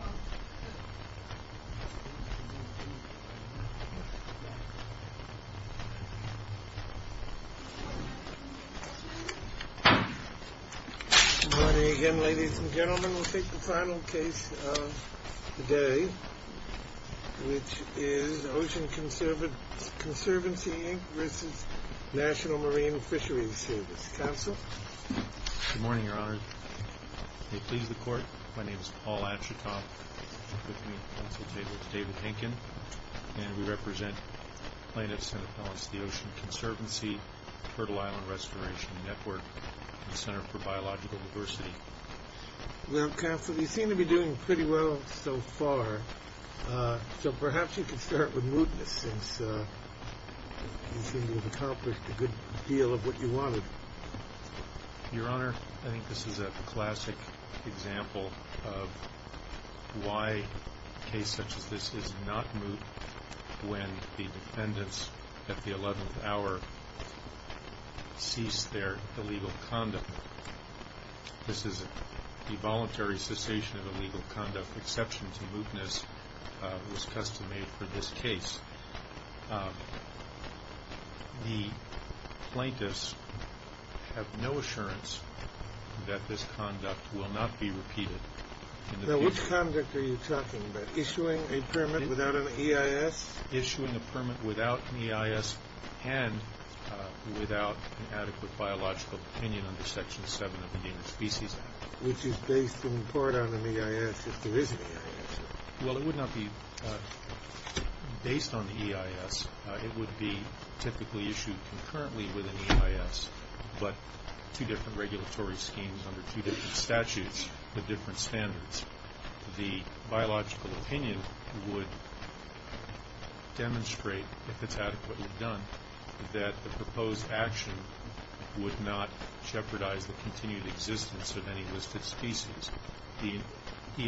Good morning ladies and gentlemen, we'll take the final case of the day which is Ocean Conservancy v. National Marine Fisheries Service. Counsel? Good morning, Your Honor. May it please the David Hinken, and we represent plaintiffs in the policy of the Ocean Conservancy, Turtle Island Restoration Network, Center for Biological Diversity. You seem to be doing pretty well so far, so perhaps you can start with mootness. You seem to have accomplished a good deal of what you wanted. Your Honor, I think this is a classic example of why a case such as this is not moot, when the defendants at the 11th hour cease their illegal conduct. This is a voluntary cessation of illegal conduct, exception to mootness, which is customary for this case. The plaintiffs have no assurance that this conduct will not be repeated. Now which conduct are you talking about? Issuing a permit without an EIS? Issuing a permit without an EIS and without an adequate biological opinion under Section 7 of the Indian Species Act. Which is based in part on an EIS that's originally there. Well, it would not be based on the EIS. It would be typically issued concurrently with an EIS, but two different regulatory schemes under two different statutes with different standards. The biological opinion would demonstrate, if it's adequately done, that the proposed action would not jeopardize the continued existence of any listed species. The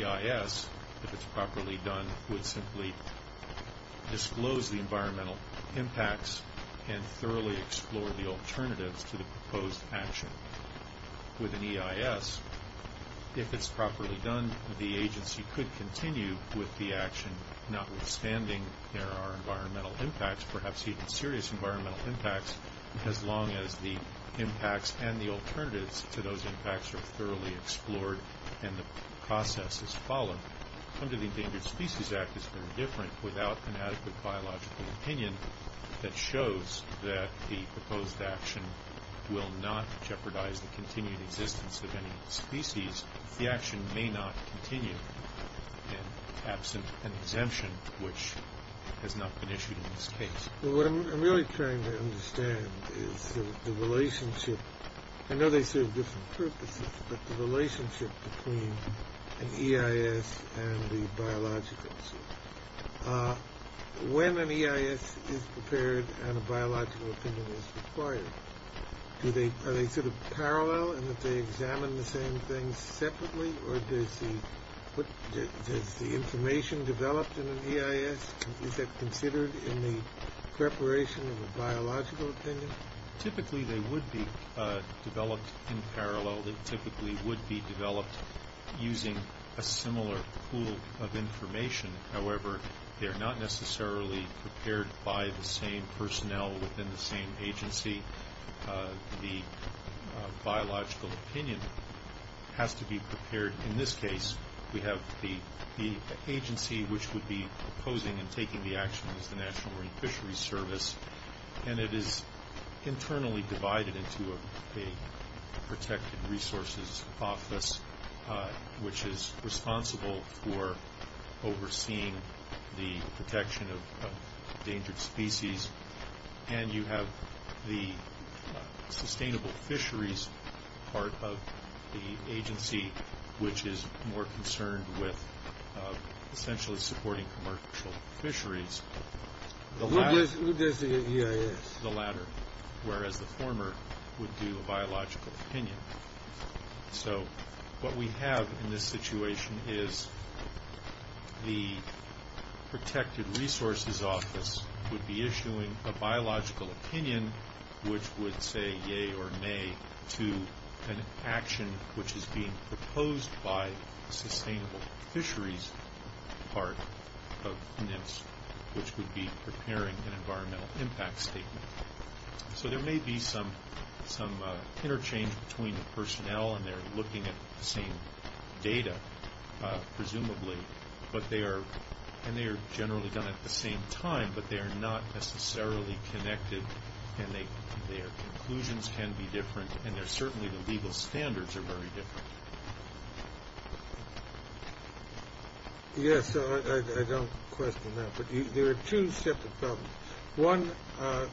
EIS, if it's properly done, would simply disclose the environmental impacts and thoroughly explore the alternatives to the proposed action. With an EIS, if it's properly done, the agency could continue with the action, notwithstanding there are environmental impacts, perhaps even serious environmental impacts, as long as the impacts and the alternatives to those impacts are thoroughly explored and the process is followed. Under the Endangered Species Act, it's very different. Without an adequate biological opinion, it shows that the proposed action will not jeopardize the continued existence of any species. The action may not continue in absent an exemption, which has not been issued in this case. What I'm really trying to understand is the relationship. I know they serve different purposes, but the relationship between an EIS and the biological. When an EIS is prepared and a biological opinion is required, are they sort of parallel and would they examine the same things separately, or is the information developed in the EIS considered in the preparation of the biological opinion? Typically, they would be developed in parallel. They typically would be developed using a similar pool of information. However, they are not necessarily prepared by the same personnel within the same agency. The biological opinion has to be prepared. In this case, we have the agency which would be proposing and taking the action of the National Marine Fisheries Service, and it is internally divided into a protected resources office, which is responsible for overseeing the protection of endangered species, and you have the sustainable fisheries part of the agency, which is more concerned with essentially supporting commercial fisheries. Who does the EIS? The latter, whereas the former would do a biological opinion. So what we have in this situation is the protected resources office would be issuing a biological opinion, which would say yea or nay to an action which is being proposed by the sustainable fisheries part of NIST, which would be preparing an environmental impact statement. So there may be some interchange between the personnel and they're looking at the same data, presumably, and they are generally done at the same time, but they are not necessarily connected, and their conclusions can be different, and certainly the legal standards are very different. Yes, so I don't question that, but there are two separate problems. One, the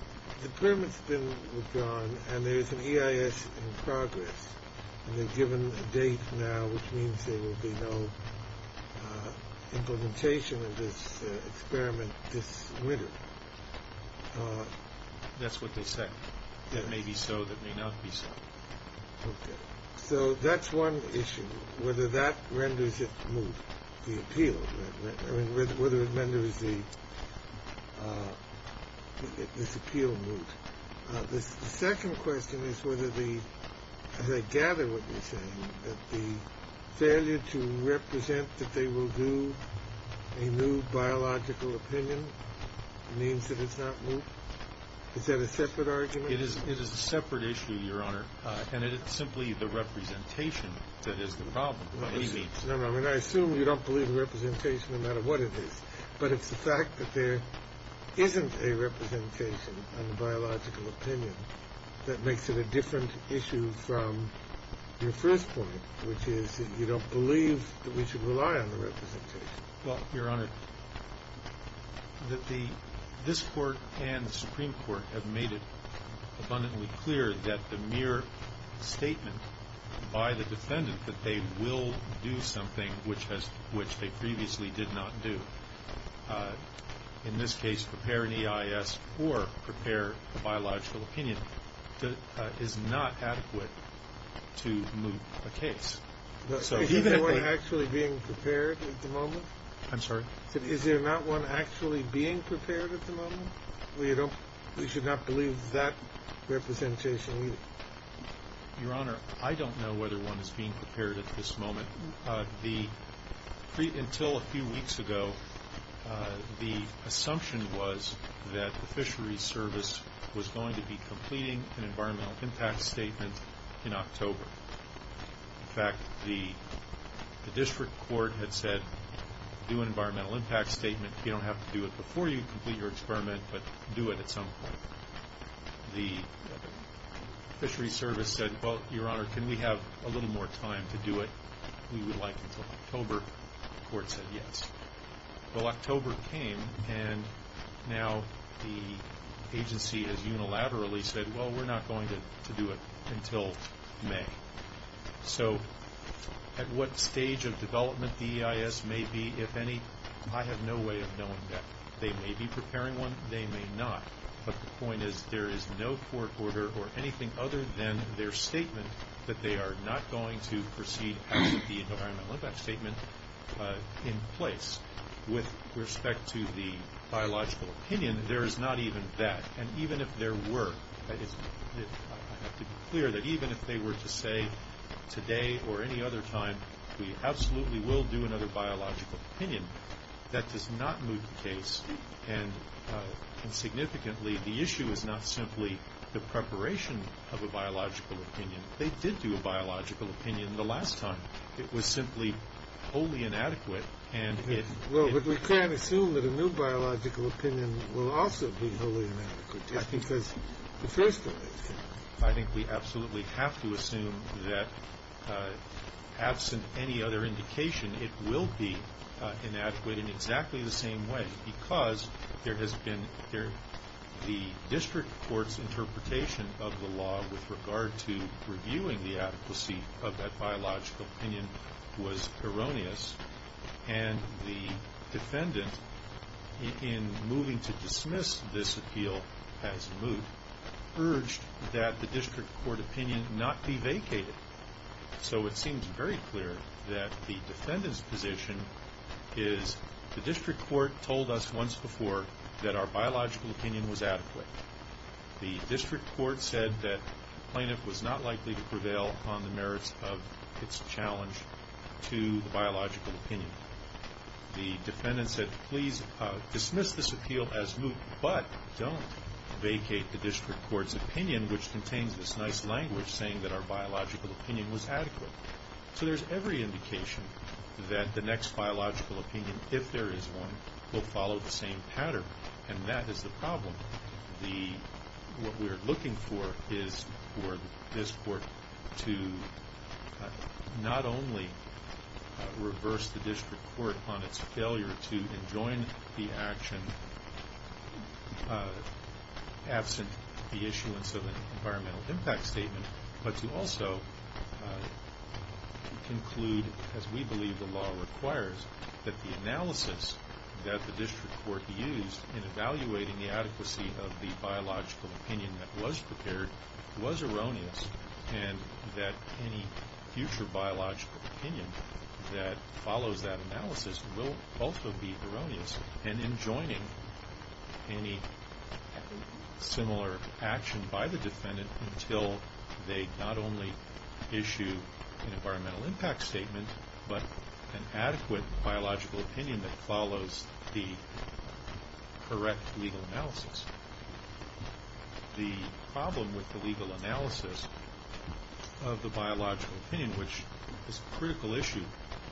agreement was done, and there is an EIS in progress, and they've given a date now, which means there will be no implementation of this experiment. That's what they say. It may be so. It may not be so. So that's one issue, whether that renders it smooth, the appeal, whether it renders this appeal smooth. The second question is whether, as I gather what you're saying, that the failure to represent that they will do a new biological opinion means that it's not moved. Is that a separate argument? It is a separate issue, Your Honor, and it is simply the representation that is the problem. I assume you don't believe in representation no matter what it is, but it's the fact that there isn't a representation on the biological opinion that makes it a different issue from your first point, which is you don't believe that we should rely on the representation. Well, Your Honor, this Court and the Supreme Court have made it abundantly clear that the mere statement by the defendant that they will do something which they previously did not do, in this case prepare the EIS or prepare the biological opinion, is not adequate to move the case. Is there one actually being prepared at the moment? I'm sorry? Is there not one actually being prepared at the moment? We should not believe that representation either. Your Honor, I don't know whether one is being prepared at this moment. Until a few weeks ago, the assumption was that the Fisheries Service was going to be completing an environmental impact statement in October. In fact, the district court had said do an environmental impact statement. You don't have to do it before you complete your experiment, but do it at some point. The Fisheries Service said, well, Your Honor, can we have a little more time to do it? We would like to do it in October. The court said yes. Well, October came, and now the agency has unilaterally said, well, we're not going to do it until May. So at what stage of development the EIS may be, if any, I have no way of knowing that. They may be preparing one. They may not. But the point is there is no court order or anything other than their statement that they are not going to proceed with the environmental impact statement in place. With respect to the biological opinion, there is not even that. And even if there were, it's clear that even if they were to say today or any other time, we absolutely will do another biological opinion, that does not move the case. And significantly, the issue is not simply the preparation of a biological opinion. They did do a biological opinion the last time. It was simply wholly inadequate. Well, but we can't assume that a new biological opinion will also be wholly inadequate, just because it is the way it is. I think we absolutely have to assume that, absent any other indication, it will be inadequate in exactly the same way, because the district court's interpretation of the law with regard to reviewing the adequacy of that biological opinion was erroneous. And the defendant, in moving to dismiss this appeal as moved, urged that the district court opinion not be vacated. So it seems very clear that the defendant's position is the district court told us once before that our biological opinion was adequate. The district court said that plaintiff was not likely to prevail on the merits of its challenge to the biological opinion. The defendant said, please dismiss this appeal as moved, but don't vacate the district court's opinion, which contains this nice language saying that our biological opinion was adequate. So there's every indication that the next biological opinion, if there is one, will follow the same pattern. And that is the problem. What we're looking for is for this court to not only reverse the district court on its failure to enjoin the action absent the issuance of the environmental impact statement, but to also conclude, as we believe the law requires, that the analysis that the district court used in evaluating the adequacy of the biological opinion that was prepared was erroneous, and that any future biological opinion that follows that analysis will also be erroneous in enjoining any similar action by the defendant until they not only issue an environmental impact statement, but an adequate biological opinion that follows the correct legal analysis. The problem with the legal analysis of the biological opinion, which is a critical issue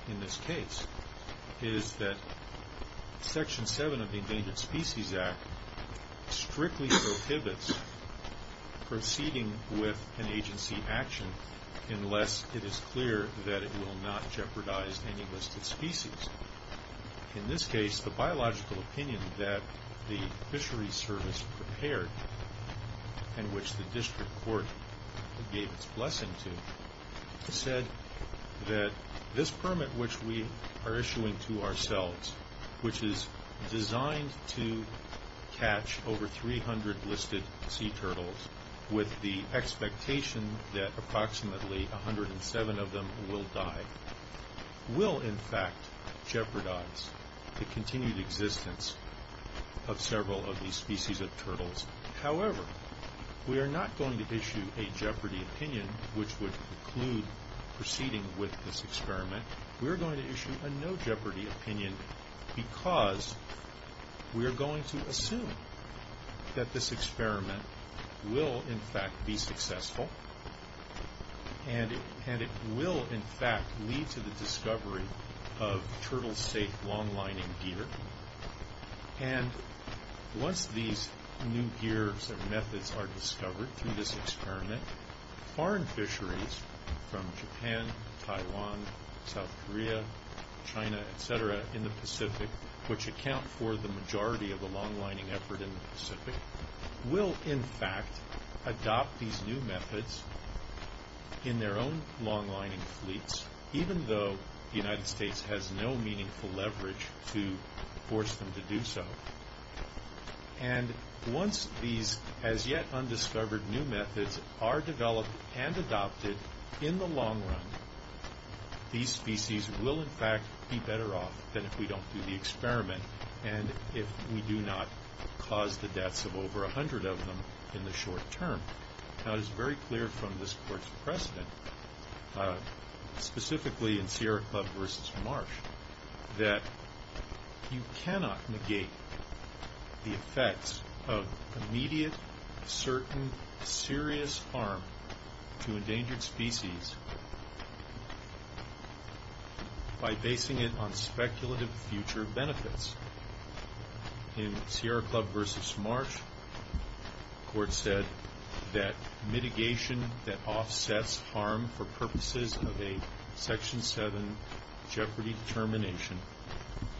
in this case, is that Section 7 of the Endangered Species Act strictly prohibits proceeding with an agency action unless it is clear that it will not jeopardize any listed species. In this case, the biological opinion that the fishery service prepared, in which the district court gave its blessing to, said that this permit which we are issuing to ourselves, which is designed to catch over 300 listed sea turtles with the expectation that approximately 107 of them will die, will in fact jeopardize the continued existence of several of these species of turtles. However, we are not going to issue a jeopardy opinion, which would preclude proceeding with this experiment. We are going to issue a no jeopardy opinion because we are going to assume that this experiment will in fact be successful, and it will in fact lead to the discovery of turtle-safe long-lining gear. And once these new gears and methods are discovered in this experiment, foreign fisheries from Japan, Taiwan, South Korea, China, etc., in the Pacific, which account for the majority of the long-lining effort in the Pacific, will in fact adopt these new methods in their own long-lining fleets, even though the United States has no meaningful leverage to force them to do so. And once these as-yet-undiscovered new methods are developed and adopted in the long run, these species will in fact be better off than if we don't do the experiment and if we do not cause the deaths of over 100 of them in the short term. Now, it is very clear from this course precedent, specifically in Sierra Club versus Marsh, that you cannot negate the effects of immediate, certain, serious harm to endangered species by basing it on speculative future benefits. In Sierra Club versus Marsh, the court said that mitigation that offsets harm for purposes of a Section 7 jeopardy termination,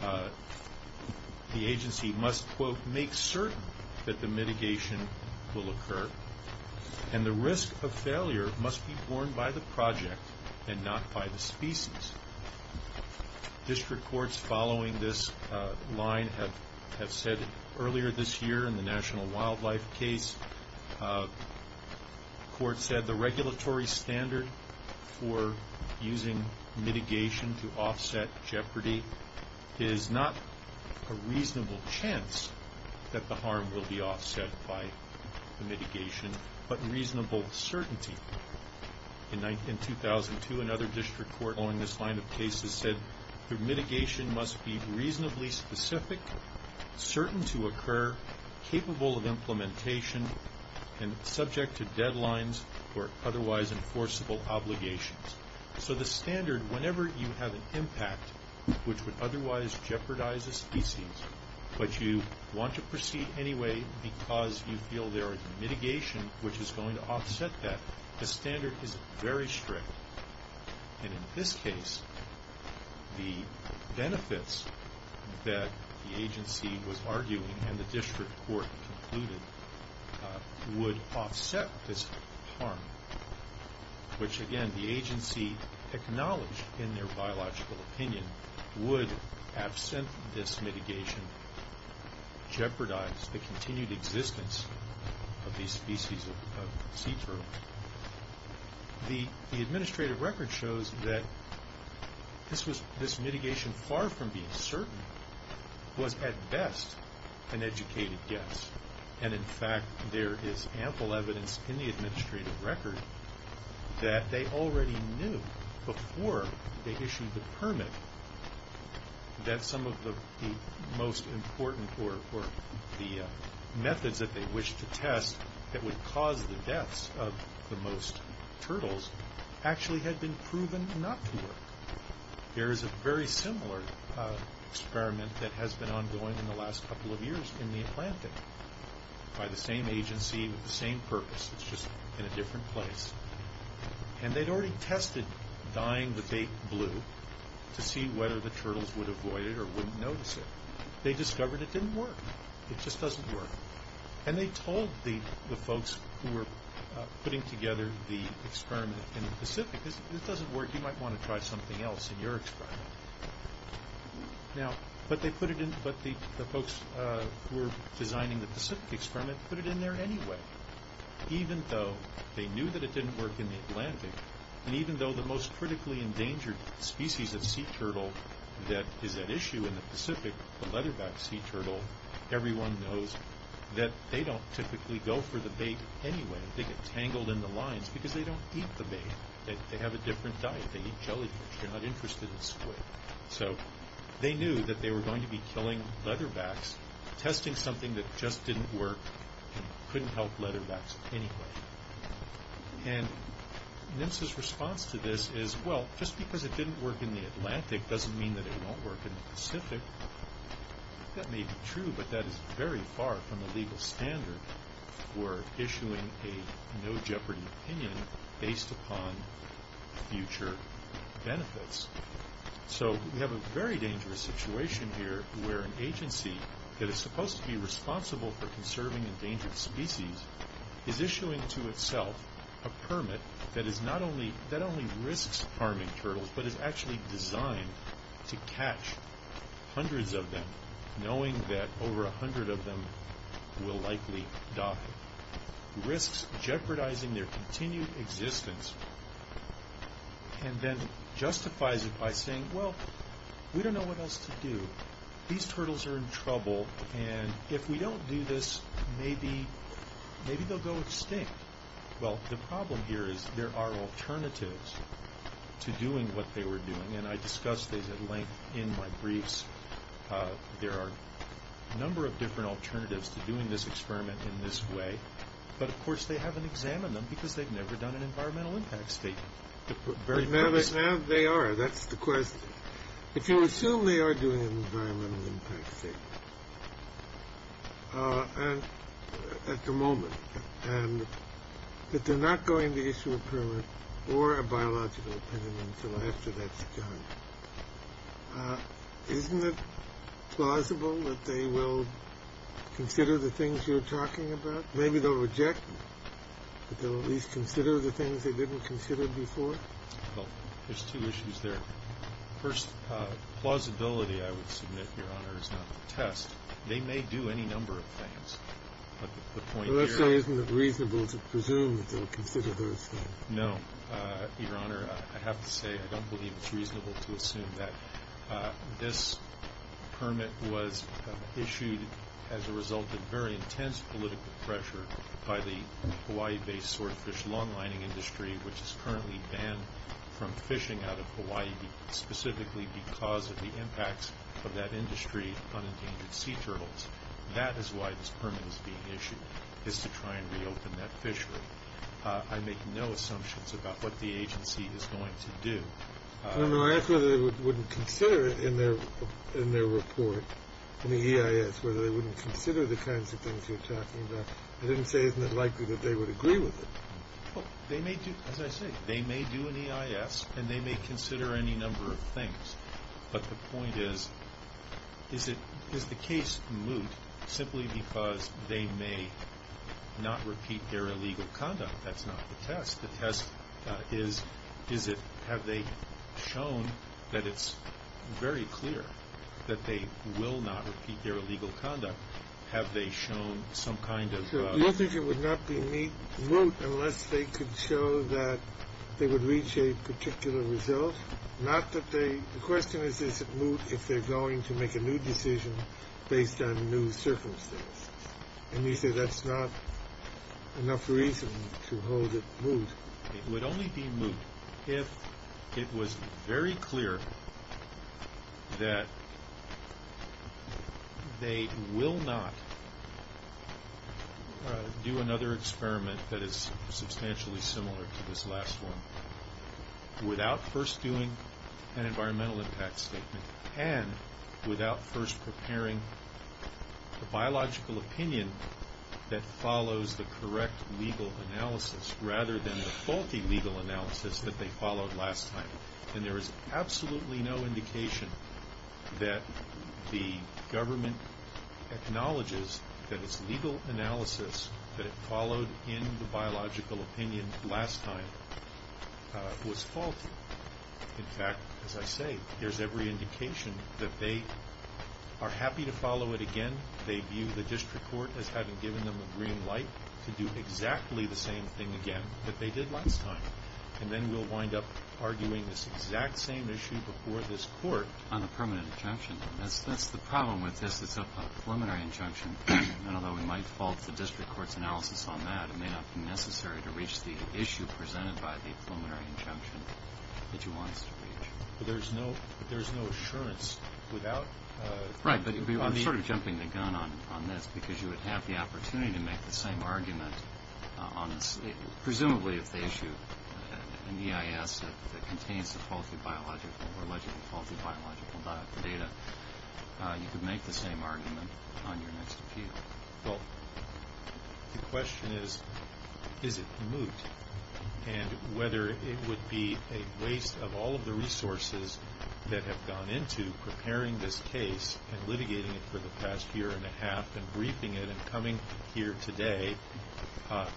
the agency must, quote, make certain that the mitigation will occur. And the risk of failure must be borne by the project and not by the species. District courts following this line have said earlier this year in the National Wildlife case, the court said the regulatory standard for using mitigation to offset jeopardy is not a reasonable chance that the harm will be offset by mitigation, but reasonable certainty. In 2002, another district court following this line of cases said, the mitigation must be reasonably specific, certain to occur, capable of implementation, and subject to deadlines or otherwise enforceable obligations. So the standard, whenever you have an impact which would otherwise jeopardize a species, but you want to proceed anyway because you feel there is a mitigation which is going to offset that, the standard is very strict. And in this case, the benefits that the agency was arguing and the district court included would offset this harm, which, again, the agency acknowledged in their biological opinion, would, absent this mitigation, jeopardize the continued existence of these species of sea turtles. The administrative record shows that this mitigation, far from being certain, was at best an educated guess. And, in fact, there is ample evidence in the administrative record that they already knew before they issued the permit that some of the most important or the methods that they wished to test that would cause the deaths of the most turtles actually had been proven not to do it. There is a very similar experiment that has been ongoing in the last couple of years in the Atlantic by the same agency with the same purpose. It's just in a different place. And they'd already tested dyeing the bait blue to see whether the turtles would avoid it or wouldn't notice it. They discovered it didn't work. It just doesn't work. And they told the folks who were putting together the experiment in the Pacific, if this doesn't work, you might want to try something else in your experiment. But the folks who were designing the Pacific experiment put it in there anyway, even though they knew that it didn't work in the Atlantic, and even though the most critically endangered species of sea turtle that is at issue in the Pacific, the leatherback sea turtle, everyone knows that they don't typically go for the bait anyway. They get tangled in the lines because they don't eat the bait. They have a different diet. They're not interested in squid. So they knew that they were going to be killing leatherbacks, testing something that just didn't work and couldn't help leatherbacks anyway. And NIST's response to this is, well, just because it didn't work in the Atlantic doesn't mean that it won't work in the Pacific. That may be true, but that is very far from the legal standard We're issuing a no-jeopardy opinion based upon future benefits. So we have a very dangerous situation here where an agency that is supposed to be responsible for conserving endangered species is issuing to itself a permit that not only risks harming turtles, but is actually designed to catch hundreds of them, knowing that over a hundred of them will likely die, risks jeopardizing their continued existence, and then justifies it by saying, well, we don't know what else to do. These turtles are in trouble, and if we don't do this, maybe they'll go extinct. Well, the problem here is there are alternatives to doing what they were doing, and I discussed these at length in my briefs. There are a number of different alternatives to doing this experiment in this way, but of course they haven't examined them because they've never done an environmental impact statement. Now they are. That's the question. But you assume they are doing an environmental impact statement at the moment, but they're not going to issue a permit or a biological opinion until after that's done. Isn't it plausible that they will consider the things you're talking about? Maybe they'll reject, but they'll at least consider the things they didn't consider before? There's two issues there. First, plausibility, I would submit, Your Honor, is not a test. They may do any number of things. So let's say isn't it reasonable to presume they'll consider those things? No, Your Honor, I'd have to say I don't believe it's reasonable to assume that. This permit was issued as a result of very intense political pressure by the Hawaii-based swordfish longlining industry, which is currently banned from fishing out of Hawaii, specifically because of the impacts of that industry on endangered sea turtles. That is why this permit is being issued, is to try and reopen that fishery. I make no assumptions about what the agency is going to do. Your Honor, I asked whether they wouldn't consider it in their report, in the EIS, whether they wouldn't consider the kinds of things you're talking about. I didn't say isn't it likely that they would agree with it. Well, as I said, they may do an EIS, and they may consider any number of things. But the point is, is the case moot simply because they may not repeat their illegal conduct? That's not the test. The test is have they shown that it's very clear that they will not repeat their illegal conduct? Have they shown some kind of— Sure. It would not be moot unless they could show that they would reach a particular result. The question is, is it moot if they're going to make a new decision based on new circumstances? And you say that's not enough reason to hold it moot. It would only be moot if it was very clear that they will not do another experiment that is substantially similar to this last one without first doing an environmental impact statement and without first preparing the biological opinion that follows the correct legal analysis, rather than the faulty legal analysis that they followed last time. And there is absolutely no indication that the government acknowledges that its legal analysis that it followed in the biological opinions last time was faulty. In fact, as I say, there's every indication that they are happy to follow it again. They view the district court that hasn't given them a green light to do exactly the same thing again that they did last time. And then we'll wind up arguing this exact same issue before this court. On the permanent injunction, that's the problem with this, the preliminary injunction. And although we might fault the district court's analysis on that, it may not be necessary to reach the issue presented by the preliminary injunction that you want us to reach. But there's no assurance without... Right. I'm sort of jumping the gun on this, because you would have the opportunity to make the same argument on presumably an issue, an EIS that contains the faulty biological or wasn't faulty biological data. You could make the same argument on your next appeal. Well, the question is, is it moot? And whether it would be a waste of all of the resources that have gone into preparing this case and litigating it for the past year and a half and briefing it and coming here today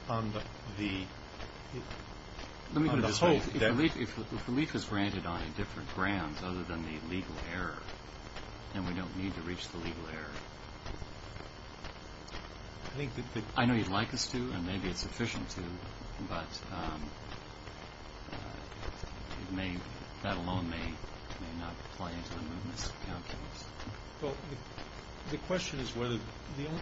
on the hope that... If relief is granted on a different ground other than the legal error, then we don't need to reach the legal error. I know you'd like us to, and maybe it's sufficient to, but that alone may not apply to the movement of counsels. Well, the question is whether...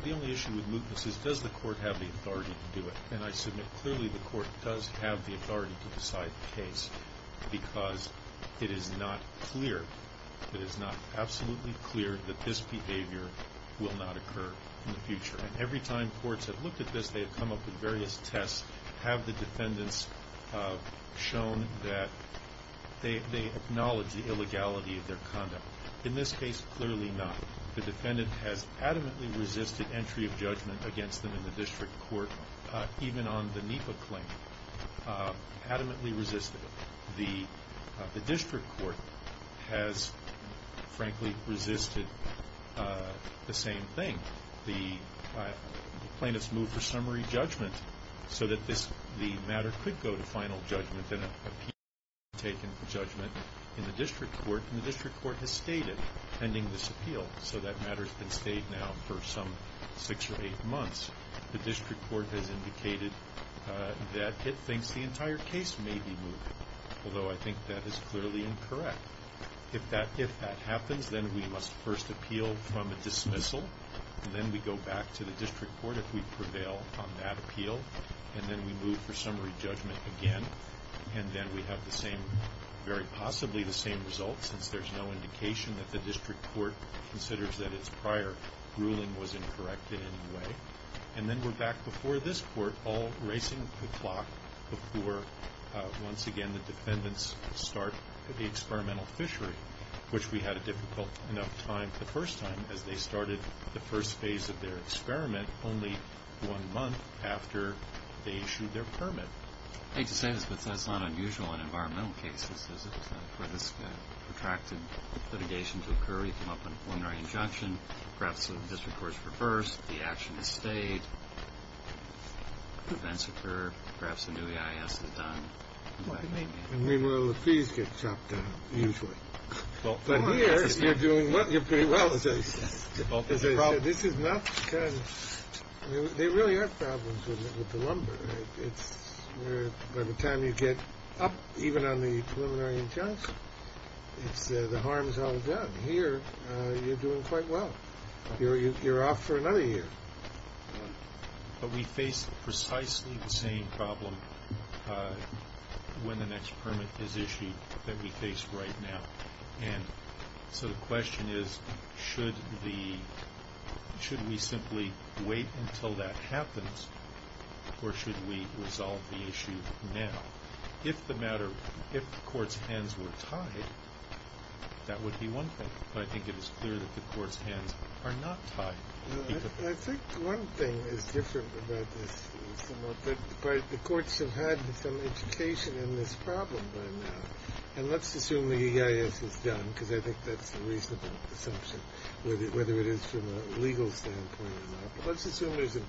The only issue with mootness is, does the court have the authority to do it? And I submit clearly the court does have the authority to decide the case, because it is not clear. It is not absolutely clear that this behavior will not occur in the future. And every time courts have looked at this, they have come up with various tests, have the defendants shown that they acknowledge the illegality of their conduct. In this case, clearly not. The defendant has adamantly resisted entry of judgment against them in the district court, even on the NEPA claim. Adamantly resisted. The district court has, frankly, resisted the same thing. The plaintiffs moved for summary judgment so that the matter could go to final judgment and an appeal could be taken for judgment in the district court, and the district court has stated, pending this appeal, so that matter can stay now for some six or eight months. The district court has indicated that it thinks the entire case may be mooted, although I think that is clearly incorrect. If that happens, then we must first appeal from a dismissal, and then we go back to the district court if we prevail on that appeal, and then we move for summary judgment again, and then we have the same, very possibly the same result, since there's no indication that the district court considers that it's prior. The ruling was incorrect in any way. And then we're back before this court all racing the clock before, once again, the defendants start the experimental fishery, which we had a difficult enough time the first time that they started the first phase of their experiment only one month after they issued their permit. I hate to say this, but that's not unusual in environmental cases, because it's kind of a risk of protracted litigation to occur, you come up with a preliminary injunction, perhaps the district court is reversed, the action is saved, the defense is secure, perhaps a new EIA has to be done. I mean, well, the fees get chopped down usually. But here, you're doing pretty well, I'll tell you that. This is not kind of – they really aren't problems with the lumber. By the time you get up, even on the preliminary injunction, the harm is all done. Here, you're doing quite well. You're off for another year. But we face precisely the same problem when the next permit is issued that we face right now. And so the question is, should we simply wait until that happens, or should we resolve the issue now? If the matter – if the court's hands were tied, that would be wonderful. But I think it is clear that the court's hands are not tied. I think one thing is different about this, that the courts have had some education in this problem by now. And let's assume the EIA is done, because I think that's a reasonable assumption, whether it is from a legal standpoint or not. Let's assume there's an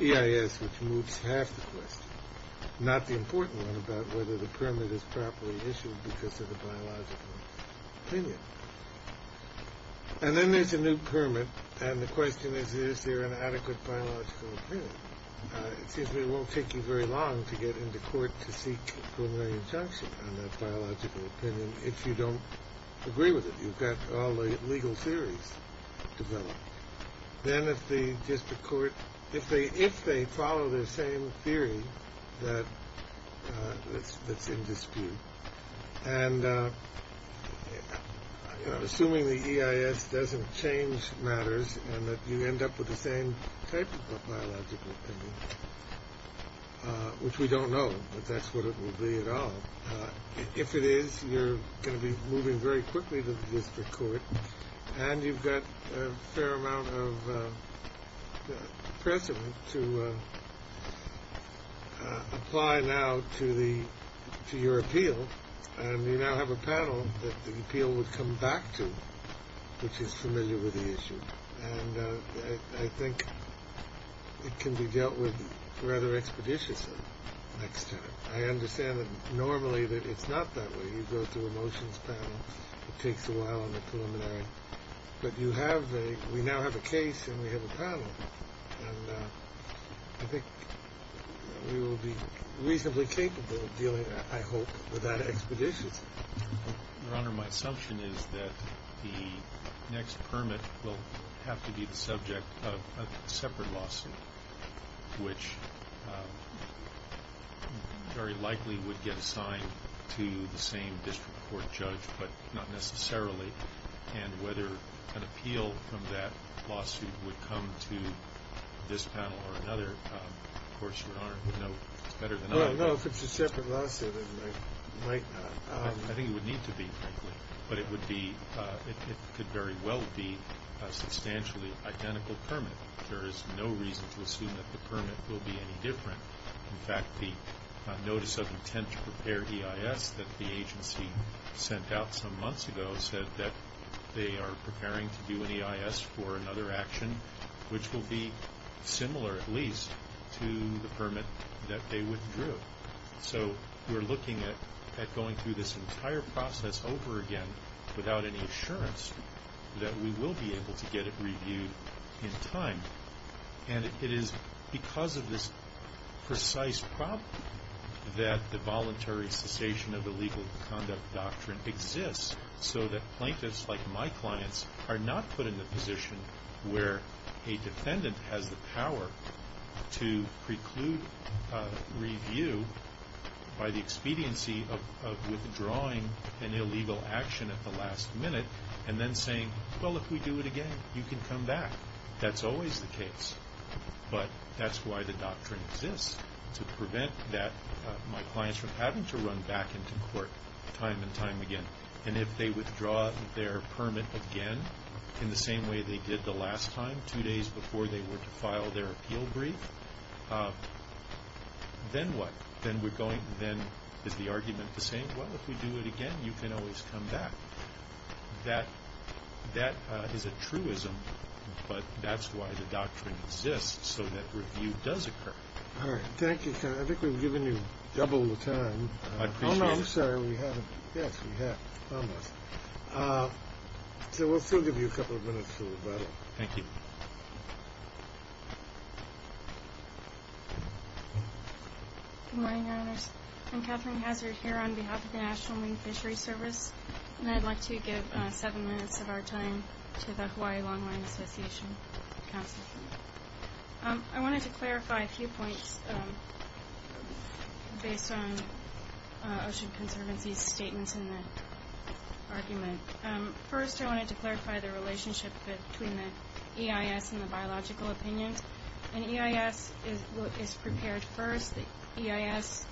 EIA that's moved tactically, not the important one about whether the permit is properly issued because of a biological opinion. And then there's a new permit, and the question is, is there an adequate biological opinion? Because it won't take you very long to get into court to see if there's any consensus on that biological opinion if you don't agree with it. You've got all the legal theories to go on. Then if the district court – if they follow the same theory that the English do, and assuming the EIA doesn't change matters and that you end up with the same basis of biological opinion, which we don't know if that's what it would be at all. If it is, you're going to be moving very quickly to the district court, and you've got a fair amount of precedent to apply now to your appeal. And we now have a panel that the appeal would come back to, which is familiar with the issue. And I think it can be dealt with rather expeditiously next time. I understand that normally it's not that way. You go through a motions panel. It takes a while in the preliminary. But you have a – we now have a case, and we have a panel. And I think we will be reasonably capable of dealing, I hope, with that expeditiously. Your Honor, my assumption is that the next permit will have to be the subject of a separate lawsuit, which very likely would get assigned to the same district court judge, but not necessarily. And whether an appeal from that lawsuit would come to this panel or another, of course, Your Honor, you know better than I do. No, no, if it's a separate lawsuit, then it might not. I think it would need to be, but it would be – it could very well be a substantially identical permit. There is no reason to assume that the permit will be any different. In fact, the notice of intent to prepare EIS that the agency sent out some months ago said that they are preparing to do an EIS for another action, which will be similar at least to the permit that they withdrew. So we're looking at going through this entire process over again without any assurance that we will be able to get it reviewed in time. And it is because of this precise problem that the voluntary cessation of the legal conduct doctrine exists so that plaintiffs like my clients are not put in the position where a defendant has the power to preclude review by the expediency of withdrawing an illegal action at the last minute and then saying, well, if we do it again, you can come back. That's always the case. But that's why the doctrine exists to prevent that my clients from having to run back into court time and time again. And if they withdraw their permit again in the same way they did the last time, two days before they would file their appeal brief, then what? Then we're going – then is the argument the same? Well, if we do it again, you can always come back. That is a truism, but that's why the doctrine exists so that review does occur. All right. Thank you, Senator. I think we've given you double the time. I appreciate it. Oh, no, I'm sorry. We haven't. Yes, we have. Okay, we'll still give you a couple of minutes for the vote. Thank you. Good morning, Your Honor. I'm Kathleen Hatcher here on behalf of the National Marine Fishery Service, and I'd like to give seven minutes of our time to the Hawaii Longline Association Council. I wanted to clarify a few points based on Ocean Conservancy's statements in the argument. First, I wanted to clarify the relationship between the EIS and the biological opinion. The EIS is prepared first. The EIS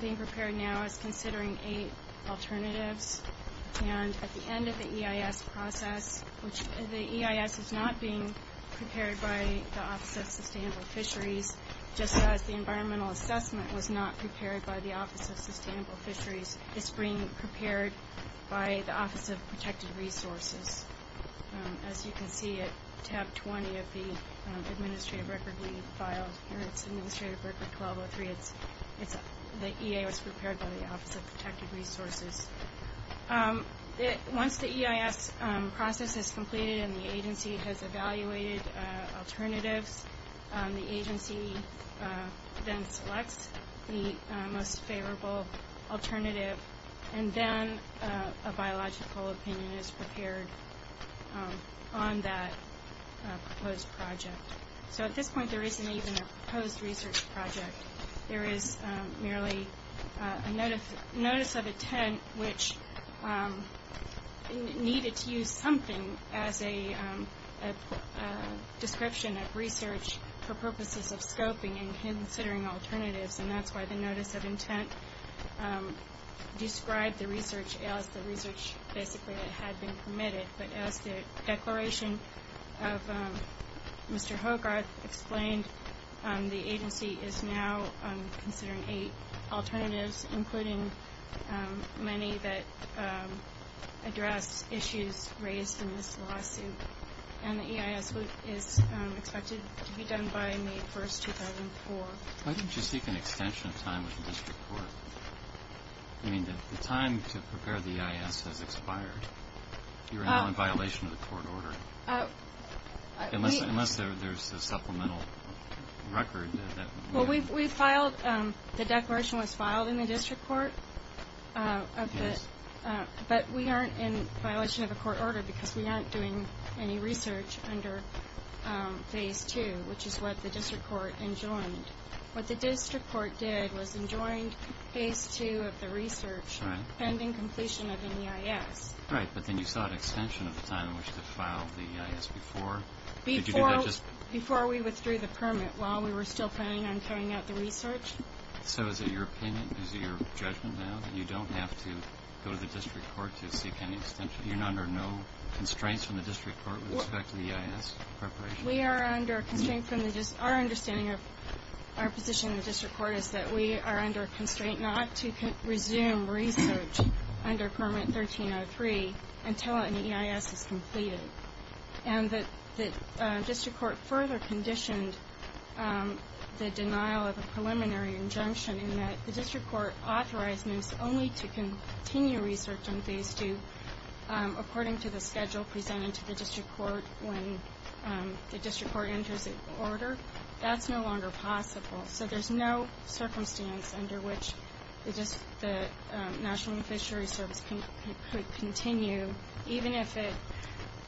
being prepared now is considering eight alternatives, and at the end of the EIS process, the EIS is not being prepared by the Office of Sustainable Fisheries, just as the environmental assessment was not prepared by the Office of Sustainable Fisheries. It's being prepared by the Office of Protected Resources. As you can see at Chapter 20 of the Administrative Record, we need to file Administrative Record 1203 if the EIS is prepared by the Office of Protected Resources. Once the EIS process is completed and the agency has evaluated alternatives, the agency then selects the most favorable alternative, and then a biological opinion is prepared on that proposed project. So at this point, there isn't even a proposed research project. There is merely a notice of intent which needed to use something as a description of research for purposes of scoping and considering alternatives, and that's why the notice of intent describes the research as the research that has been submitted. But as the declaration of Mr. Hogarth explained, the agency is now considering eight alternatives, including many that address issues raised in this lawsuit, and the EIS is expected to be done by May 1, 2004. Why didn't you seek an extension time in the district court? I mean, the time to prepare the EIS has expired. You're now in violation of the court order. Unless there's the supplemental record. Well, the declaration was filed in the district court, but we aren't in violation of the court order because we aren't doing any research under Phase 2, which is what the district court enjoined. What the district court did was enjoined Phase 2 of the research pending completion of the EIS. Right, but then you sought an extension of the time which was filed the EIS before. Before we withdrew the permit while we were still planning on carrying out the research. So is it your opinion, is it your judgment now that you don't have to go to the district court to seek an extension? You're under no constraints in the district court with respect to the EIS preparation? We are under constraints and our understanding of our position in the district court is that we are under a constraint not to resume research under Permit 1303 until an EIS is completed. And the district court further conditioned the denial of the preliminary injunction in that the district court authorized us only to continue research on Phase 2 according to the schedule presented to the district court when the district court entered the order. That's no longer possible. So there's no circumstance under which the National Fisheries Service could continue, even if it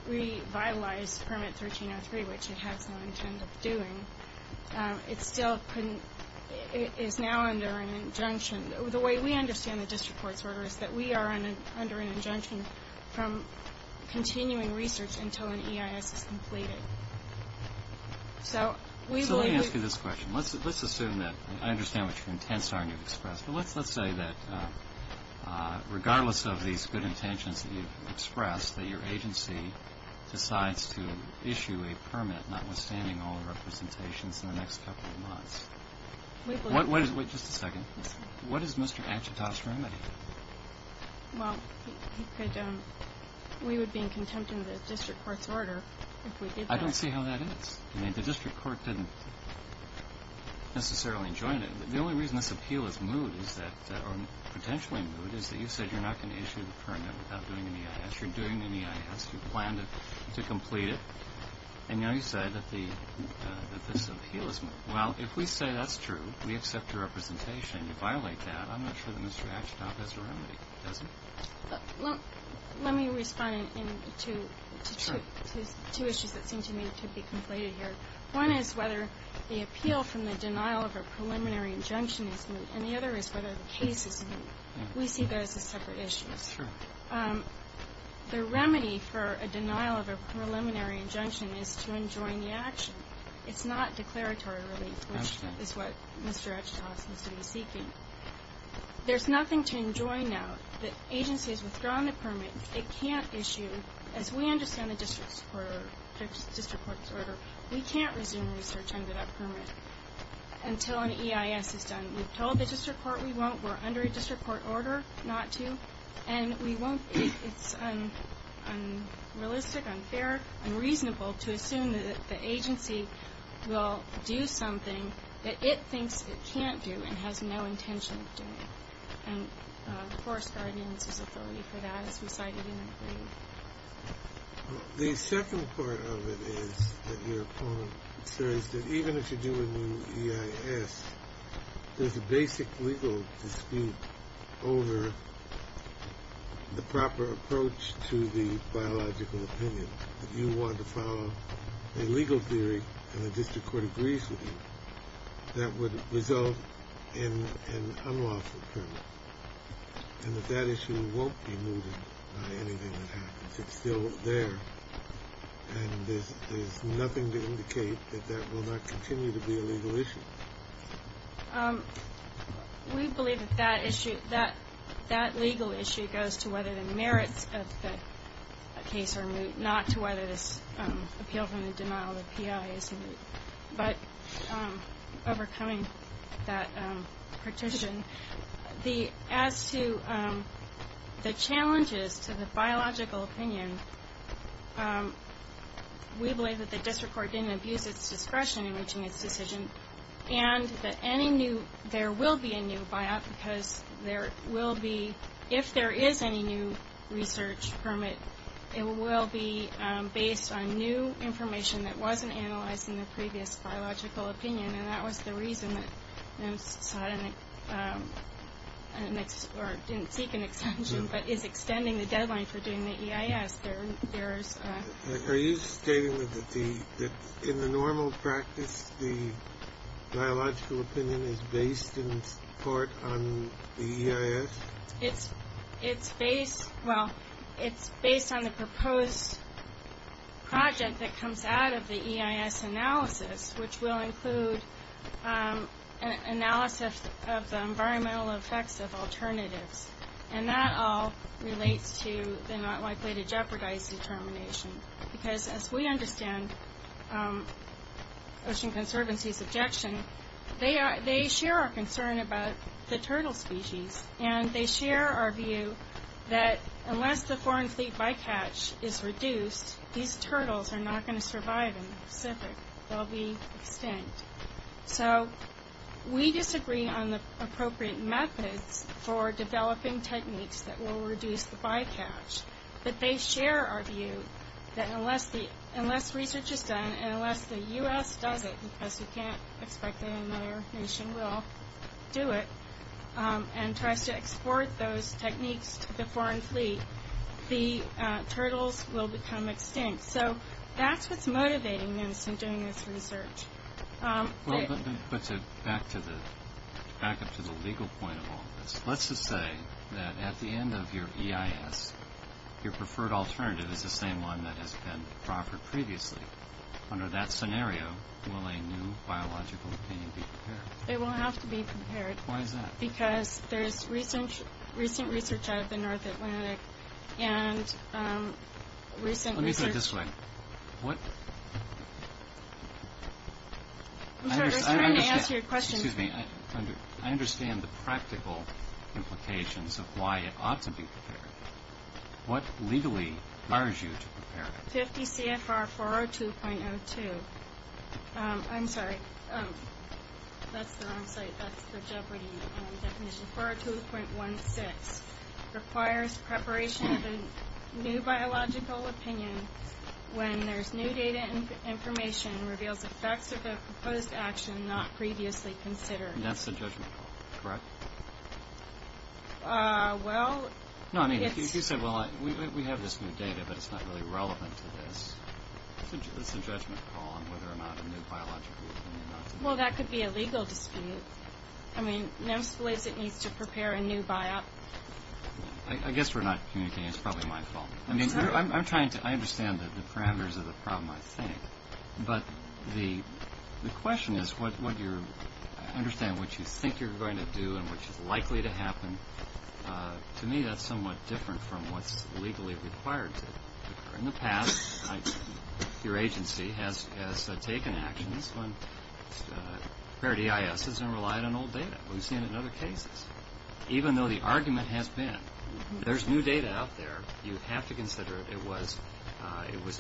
revitalized Permit 1303, which it has been doing. It still is now under an injunction. The way we understand the district court's order is that we are under an injunction from continuing research until an EIS is completed. So let me ask you this question. Let's assume that I understand what your intents are and you've expressed, but let's say that regardless of these good intentions that you've expressed, that your agency decides to issue a permit notwithstanding all of our contemplations in the next couple of months. Wait just a second. What does Mr. Achutosh mean by that? Well, we would be in contempt under the district court's order if we did that. I don't see how that is. I mean, the district court didn't necessarily enjoin it. The only reason this appeal is moved, or potentially moved, is that you said you're not going to issue the permit without doing an EIS. You're doing an EIS. You plan to complete it. And now you said that this appeal is moved. Well, if we say that's true, we've got the representation to violate that, I'm not sure that Mr. Achutosh has a remedy. Well, let me respond to two issues that seem to me to be concluded here. One is whether the appeal from the denial of a preliminary injunction is moved, and the other is whether the case is moved. We see those as separate issues. Sure. The remedy for a denial of a preliminary injunction is to enjoin the action. It's not declaratory relief, which is what Mr. Achutosh is going to be seeking. There's nothing to enjoin now. The agency has withdrawn the permit. It can't issue, as we understand the district court's order, we can't resume research under that permit until an EIS is done. We've told the district court we won't. We're under a district court order not to. And we won't. It's unrealistic, unfair, and reasonable to assume that the agency will do something that it thinks it can't do and has no intention of doing. And, of course, there are reasons for that. The second part of it is that even if you do a new EIS, there's a basic legal dispute over the proper approach to the biological opinion. If you want to follow a legal theory and a district court agrees with you, that would result in an unlawful permit. And if that issue won't be moved, it's still there. And there's nothing to indicate that that will not continue to be a legal issue. We believe that that legal issue goes to whether the merits of the case are new, not to whether it appeals in the denial of the EIS, but overcoming that petition. As to the challenges to the biological opinion, we believe that the district court didn't abuse its discretion in reaching its decision and that there will be a new EIS because there will be, if there is any new research permit, it will be based on new information that wasn't analyzed in the previous biological opinion. And that was the reason that I didn't seek an extension, but it's extending the deadline for doing the EIS. Are you stating that in the normal practice the biological opinion is based in part on the EIS? It's based on the proposed project that comes out of the EIS analysis, which will include analysis of the environmental effects of alternatives. And that all relates to the not likely to jeopardize determination. Because as we understand Ocean Conservancy's objection, they share our concern about the turtle species. And they share our view that unless the foreign feed bycatch is reduced, these turtles are not going to survive in the Pacific. They'll be extinct. So we disagree on the appropriate method for developing techniques that will reduce the bycatch. But they share our view that unless research is done and unless the U.S. does it, because we can't expect that another nation will do it, and tries to export those techniques to the foreign fleet, the turtles will become extinct. So that's what's motivating us in doing this research. Well, that puts it back up to the legal point of all this. Let's just say that at the end of your EIS, your preferred alternative is the same one that has been proffered previously. Under that scenario, will a new biological opinion be prepared? It will have to be prepared. Why is that? Because there's recent research out of the North Atlantic. Let me put it this way. I understand the practical implications of why it ought to be prepared. What legally requires you to prepare it? 50 CFR 402.02. I'm sorry. That's the wrong site. That's the jeopardy definition. 402.16 requires preparation of a new biological opinion when there's new data and information and reveals the effects of a proposed action not previously considered. And that's the judgment call, correct? Well, if you say, well, we have this new data, but it's not really relevant to this, it's a judgment call on whether or not a new biological opinion is relevant. Well, that could be a legal dispute. I mean, NEMS believes it needs to prepare a new biopsy. I guess we're not communicating. It's probably my fault. I mean, I'm trying to understand the parameters of the problem, I think. But the question is, what you're understanding, what you think you're going to do and what's likely to happen, to me that's somewhat different from what's legally required to do. In the past, your agency has taken actions on paired EISs and relied on old data. We've seen it other cases. Even though the argument has been there's new data out there, you have to consider it was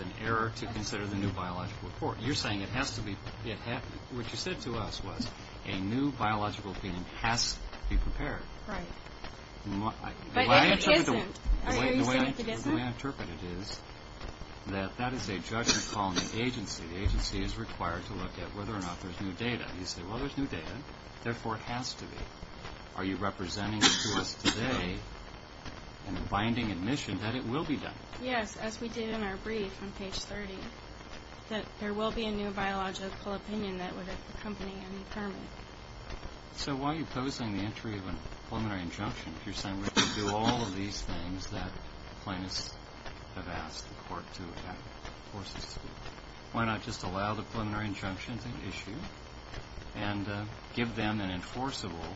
an error to consider the new biological report. You're saying it has to be adapted. What you said to us was a new biological opinion has to be prepared. Right. The way I interpret it is that that is a judgment call on the agency. The agency is required to look at whether or not there's new data. You say, well, there's new data. Therefore, it has to be. Are you representing the source today and binding admission that it will be done? Yes, as we did in our brief on page 30, that there will be a new biological opinion that would accompany any term. So why are you opposing the entry of a preliminary injunction if you're saying we can do all of these things that claimants have asked the court to force us to do? Why not just allow the preliminary injunction to be issued and give them an enforceable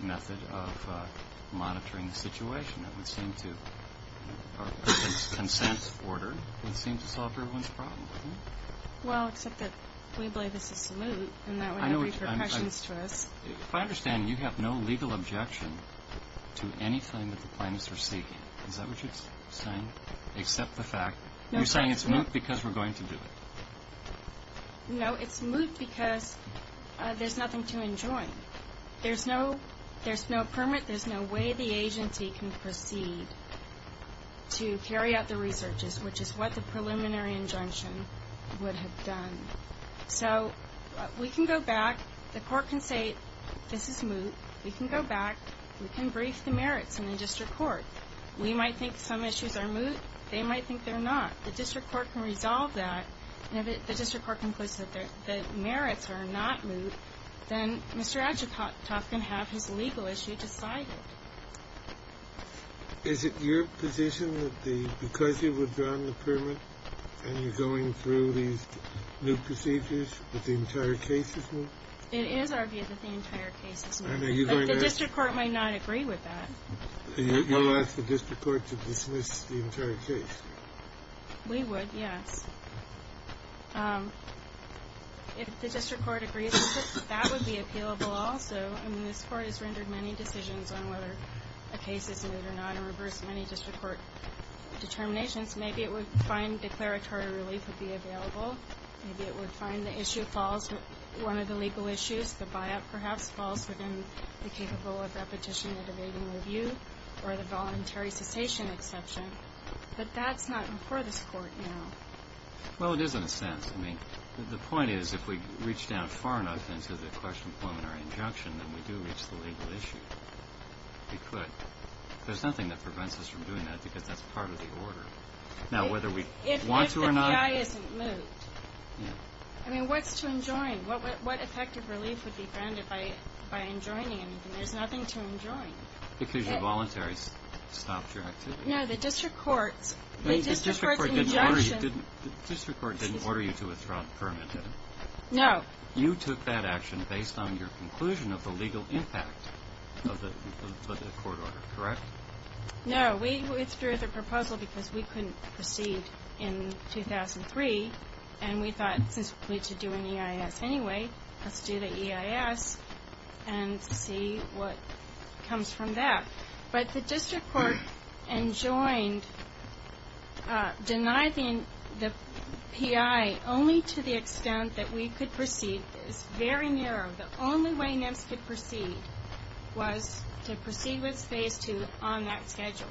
method of monitoring the situation? That would seem to, in some sense, order to solve everyone's problems. Well, except that we believe this is moot, and that would raise questions to us. If I understand, you have no legal objection to anything that the claimants are seeking. Is that what you're saying, except the fact you're saying it's moot because we're going to do it? No, it's moot because there's nothing to enjoin. There's no permit. There's no way the agency can proceed to carry out the research, which is what the preliminary injunction would have done. So we can go back. The court can say this is moot. We can go back. We can raise the merits in the district court. We might think some issues are moot. They might think they're not. The district court can resolve that. And if the district court concludes that the merits are not moot, then Mr. Ashutosh can have his legal issue decided. Is it your position that because you withdrawn the permit and you're going through the new procedures that the entire case is moot? It is argued that the entire case is moot. The district court might not agree with that. So you'll ask the district court to dismiss the entire case? We would, yes. If the district court agrees with it, that would be appealable also. This court has rendered many decisions on whether a case is moot or not and reversed many district court determinations. Maybe it would find declaratory relief would be available. Maybe it would find one of the legal issues, the buyout perhaps, falls within the capability of that petition to be reviewed or the voluntary citation exception. But that's not before this court, you know. Well, it isn't, Sam. The point is if we reach down far enough into the question of a declaratory injunction and we do, it's a legal issue. We could. There's nothing that prevents us from doing that because that's part of the order. Now, whether we want to or not. If the PI isn't moot. I mean, what's to enjoin? What effective relief would be granted by enjoining anything? There's nothing to enjoin. It's usually voluntary to stop your activity. No, the district court's injunction. The district court didn't order you to withdraw a permit, did it? No. You took that action based on your conclusion of the legal impact of the court order, correct? No, we withdrew the proposal because we couldn't proceed in 2003, and we thought since we should do an EIS anyway, let's do the EIS and see what comes from that. But the district court enjoined denying the PI only to the extent that we could proceed. It's very narrow. The only way in which to proceed was to proceed with phase two on that schedule.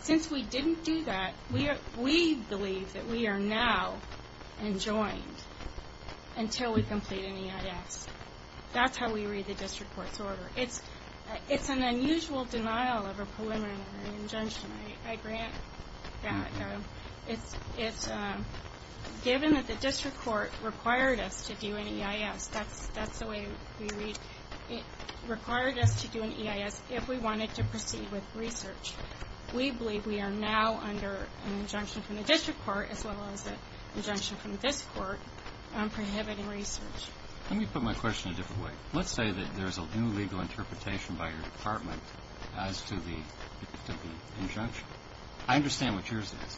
Since we didn't do that, we believe that we are now enjoined until we complete an EIS. It's an unusual denial of a preliminary injunction. I grant that. It's given that the district court required us to do an EIS. That's the way we read it. It required us to do an EIS if we wanted to proceed with research. We believe we are now under an injunction from the district court, as well as an injunction from the district court, on prohibiting research. Let me put my question a different way. Let's say that there's a new legal interpretation by your department as to the injunction. I understand what yours is.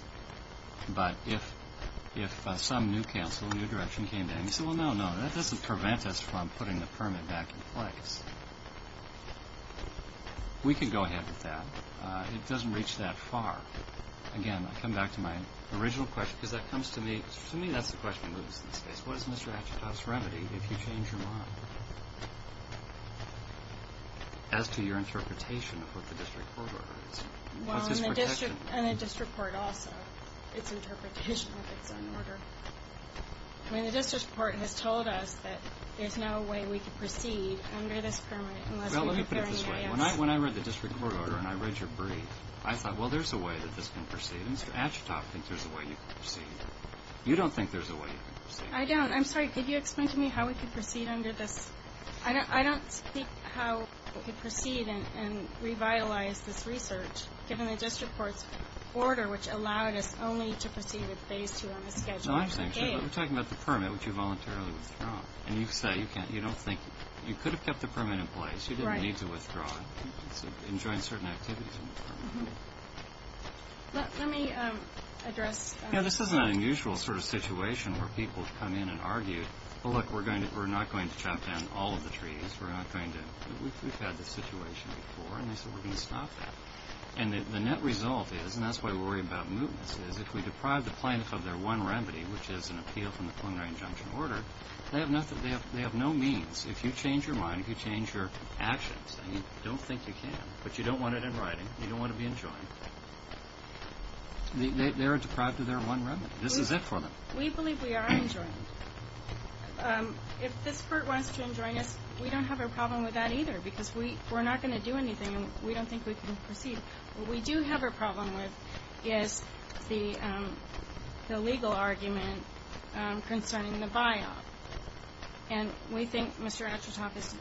But if some new counsel in your direction came in and said, well, no, no, that doesn't prevent us from putting the permit back in place, we could go ahead with that. It doesn't reach that far. Again, I come back to my original question. To me, that's the question. What is Mr. Achatot's remedy if you change your mind? As to your interpretation of what the district court ordered. Well, and the district court also, its interpretation of the court order. I mean, the district court had told us that there's no way we could proceed under this permit unless we were doing an EIS. Well, let me put it this way. When I read the district court order and I read your brief, I thought, well, there's a way that this can proceed. Mr. Achatot thinks there's a way you can proceed. You don't think there's a way. I don't. I'm sorry. Could you explain to me how we could proceed under this? I don't think how we could proceed and revitalize this research, given the district court's order, which allowed us only to proceed with phase 2. No, I think so. But we're talking about the permit, which you voluntarily withdraw. And you say you don't think. You could have kept the permit in place. You didn't need to withdraw it. Enjoying certain activities. Let me address. You know, this isn't an unusual sort of situation where people come in and argue, well, look, we're not going to shut down all of the treaties. We're not going to. We've had this situation before, and so we're going to stop that. And the net result is, and that's why we're worried about movements, is if we deprive the plaintiffs of their one remedy, which is an appeal from the preliminary injunction order, they have no means. If you change your mind, if you change your actions, you don't think you can, but you don't want it in writing. You don't want to be enjoined. They're deprived of their one remedy. This is it for them. We believe we are enjoined. If this court wants to enjoin us, we don't have a problem with that either because we're not going to do anything. We don't think we can proceed. What we do have a problem with is the legal argument concerning the buyout. And we think Mr. Astertoff is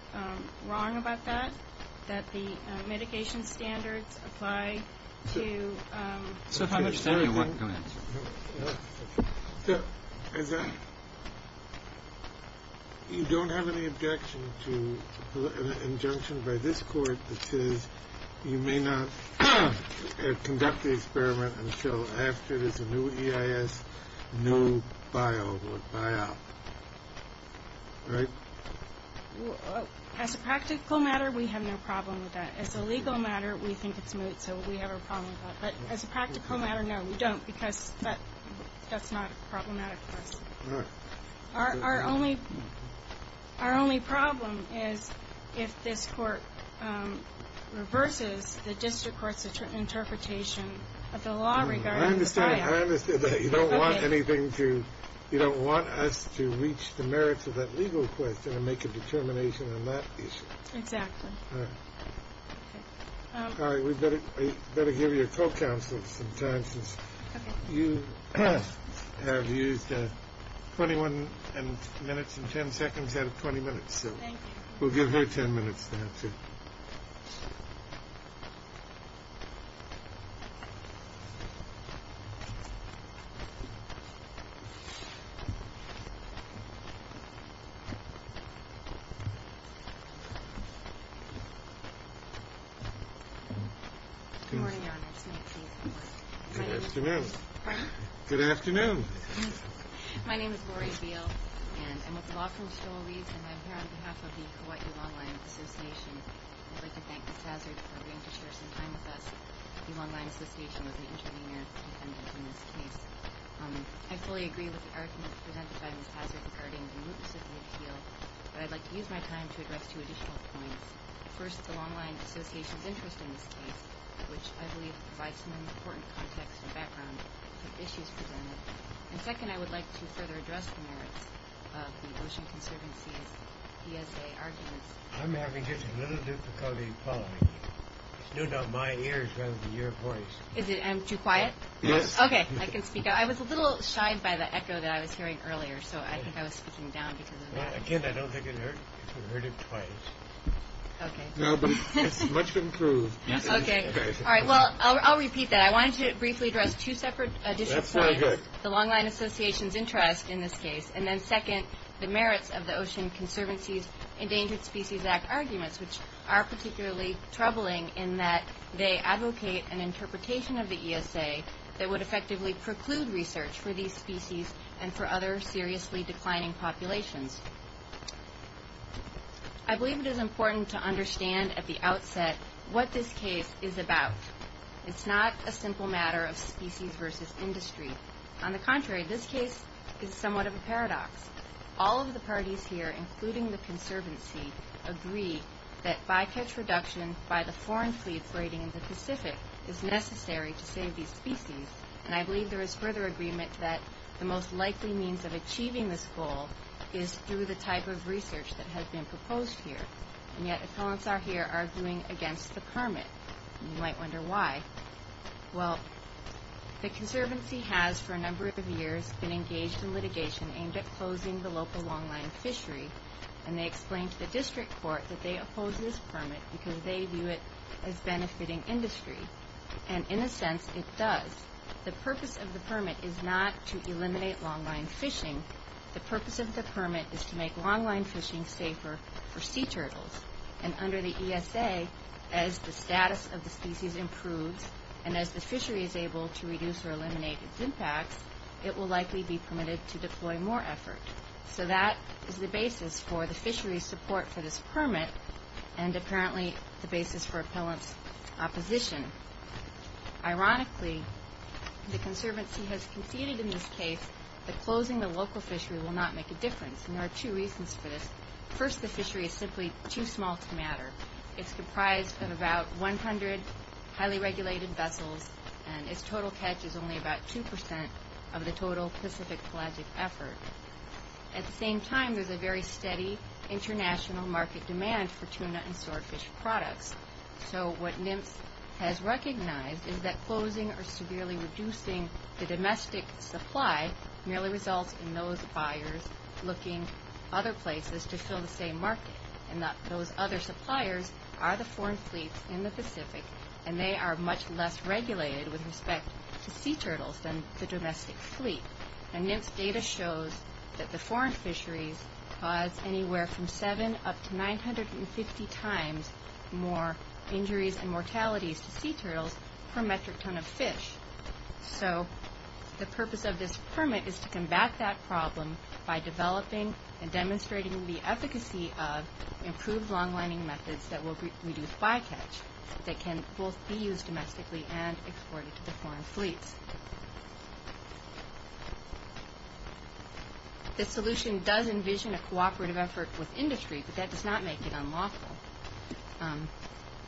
wrong about that, that the medication standards apply to the procedure. You don't have any objection to an injunction by this court because you may not conduct the experiment until Astert is a new EIS, new buyout, right? As a practical matter, we have no problem with that. As a legal matter, we think it's smooth, so we have no problem with that. But as a practical matter, no, we don't because that's not problematic. Our only problem is if this court reverses the district court's interpretation of the law regarding the buyout. I understand that. You don't want us to reach the merits of that legal court and make a determination on that issue. Exactly. All right. All right. We'd better give you a call counselor sometimes. You have used 21 minutes and 10 seconds out of 20 minutes. Thank you. We'll give you 10 minutes. Thank you. Good afternoon. Good afternoon. Is it too quiet? Yes. Okay. I can speak up. I was a little shy by the echo that I was hearing earlier, so I think I was speaking down because of that. Again, I don't think you heard it quite. Okay. No, but it's much improved. Okay. Well, I'll repeat that. I wanted to briefly address the issue of the EIS. That's very good. The Long Line Association's interest in this case, and then second, the merits of the Ocean Conservancy's Endangered Species Act arguments, which are particularly troubling in that they advocate an interpretation of the ESA that would effectively preclude research for these species and for other seriously declining populations. I believe it is important to understand at the outset what this case is about. It's not a simple matter of species versus industry. On the contrary, this case is somewhat of a paradox. All of the parties here, including the conservancy, agree that by-patch reduction by the foreign seed grading in the Pacific is necessary to save these species, and I believe there is further agreement that the most likely means of achieving this goal is through the type of research that has been proposed here, and yet the so-and-so here are arguing against the permit. You might wonder why. Well, the conservancy has, for a number of years, been engaged in litigation aimed at closing the local longline fisheries, and they explained to the district court that they oppose this permit because they view it as benefiting industry, and in a sense, it does. The purpose of the permit is not to eliminate longline fishing. The purpose of the permit is to make longline fishing safer for sea turtles, and under the ESA, as the status of the species improves and as the fishery is able to reduce or eliminate its impact, it will likely be permitted to deploy more effort. So that is the basis for the fishery's support for this permit and apparently the basis for opposition. Ironically, the conservancy has conceded in this case that closing the local fishery will not make a difference, and there are two reasons for this. First, the fishery is simply too small to matter. It's comprised of about 100 highly regulated vessels, and its total catch is only about 2% of the total Pacific Atlantic effort. At the same time, there's a very steady international market demand for tuna and swordfish products. So what NIMP has recognized is that closing or severely reducing the domestic supply merely results in those buyers looking other places to fill the same market, and that those other suppliers are the foreign fleets in the Pacific, and they are much less regulated with respect to sea turtles than the domestic fleet. And NIMP data shows that the foreign fisheries cause anywhere from seven up to 960 times more injuries and mortalities to sea turtles per metric ton of fish. So the purpose of this permit is to combat that problem by developing and demonstrating the efficacy of improved long-running methods that will reduce bycatch that can both be used domestically and exported to the foreign fleet. The solution does envision a cooperative effort with industry, but that does not make it unlawful.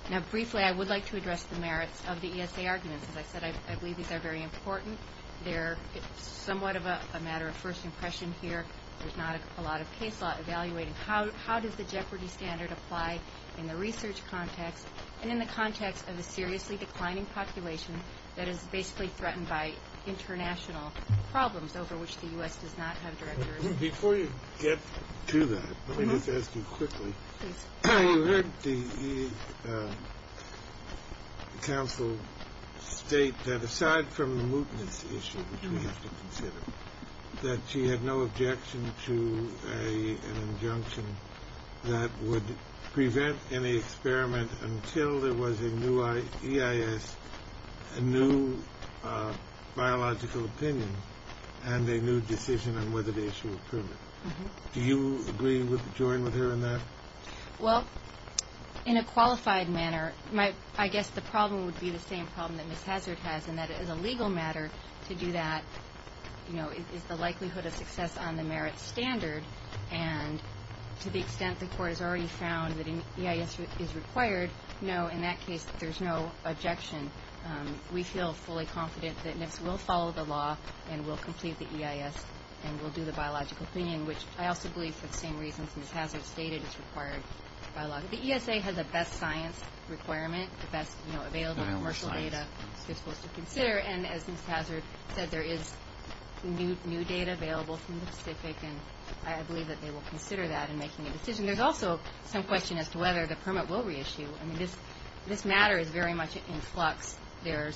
Now, briefly, I would like to address the merits of the ESA argument. As I said, I believe these are very important. They're somewhat of a matter of first impression here. There's not a lot of case law evaluated. How does the Jeopardy standard apply in the research context and in the context of a seriously declining population that is basically threatened by international problems over which the U.S. does not have direct authority? Before you get to that, let me just ask you quickly. The Council states that aside from the mootness issue, which we have to consider, that she had no objection to an injunction that would prevent any experiment until there was a new EIS, a new biological opinion, and a new decision on whether to issue a permit. Do you agree with her on that? Well, in a qualified manner, I guess the problem would be the same problem that Ms. Hazard has, in that it is a legal matter to do that. You know, it's the likelihood of success on the merits standard, and to the extent the court has already found that an EIS is required, no, in that case there's no objection. We feel fully confident that NIFS will follow the law and will complete the EIS and will do the biological opinion, which I also believe for the same reasons Ms. Hazard stated. The ESA has a best science requirement, best available commercial data to consider, and as Ms. Hazard said, there is new data available from the specific, and I believe that they will consider that in making a decision. There's also some question as to whether the permit will reissue. I mean, this matter is very much in flux. The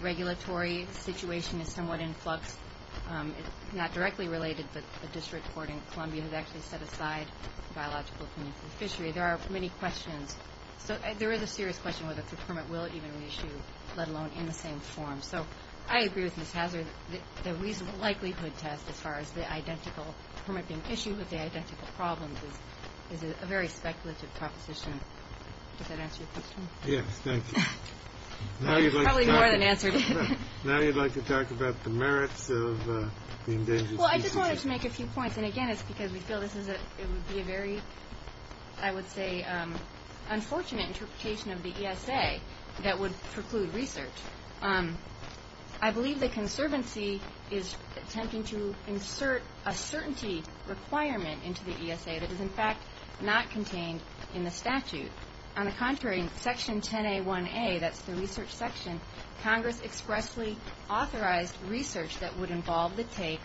regulatory situation is somewhat in flux. It's not directly related to the district court in Columbia that actually set aside the biological opinion. There are many questions. There is a serious question whether the permit will even reissue, let alone in the same form. So I agree with Ms. Hazard that the likelihood test as far as the identical permitting issue with the identical problem is a very speculative proposition. Did I answer your question? Yes, thank you. Probably more than answered it. Now you'd like to talk about the merits of the endangered species. Well, I just wanted to make a few points, and again it's because we feel this is a very, I would say, unfortunate interpretation of the ESA that would preclude research. I believe the conservancy is attempting to insert a certainty requirement into the ESA that is, in fact, not contained in the statute. On the contrary, in Section 10A1A, that's the research section, Congress expressly authorized research that would involve the case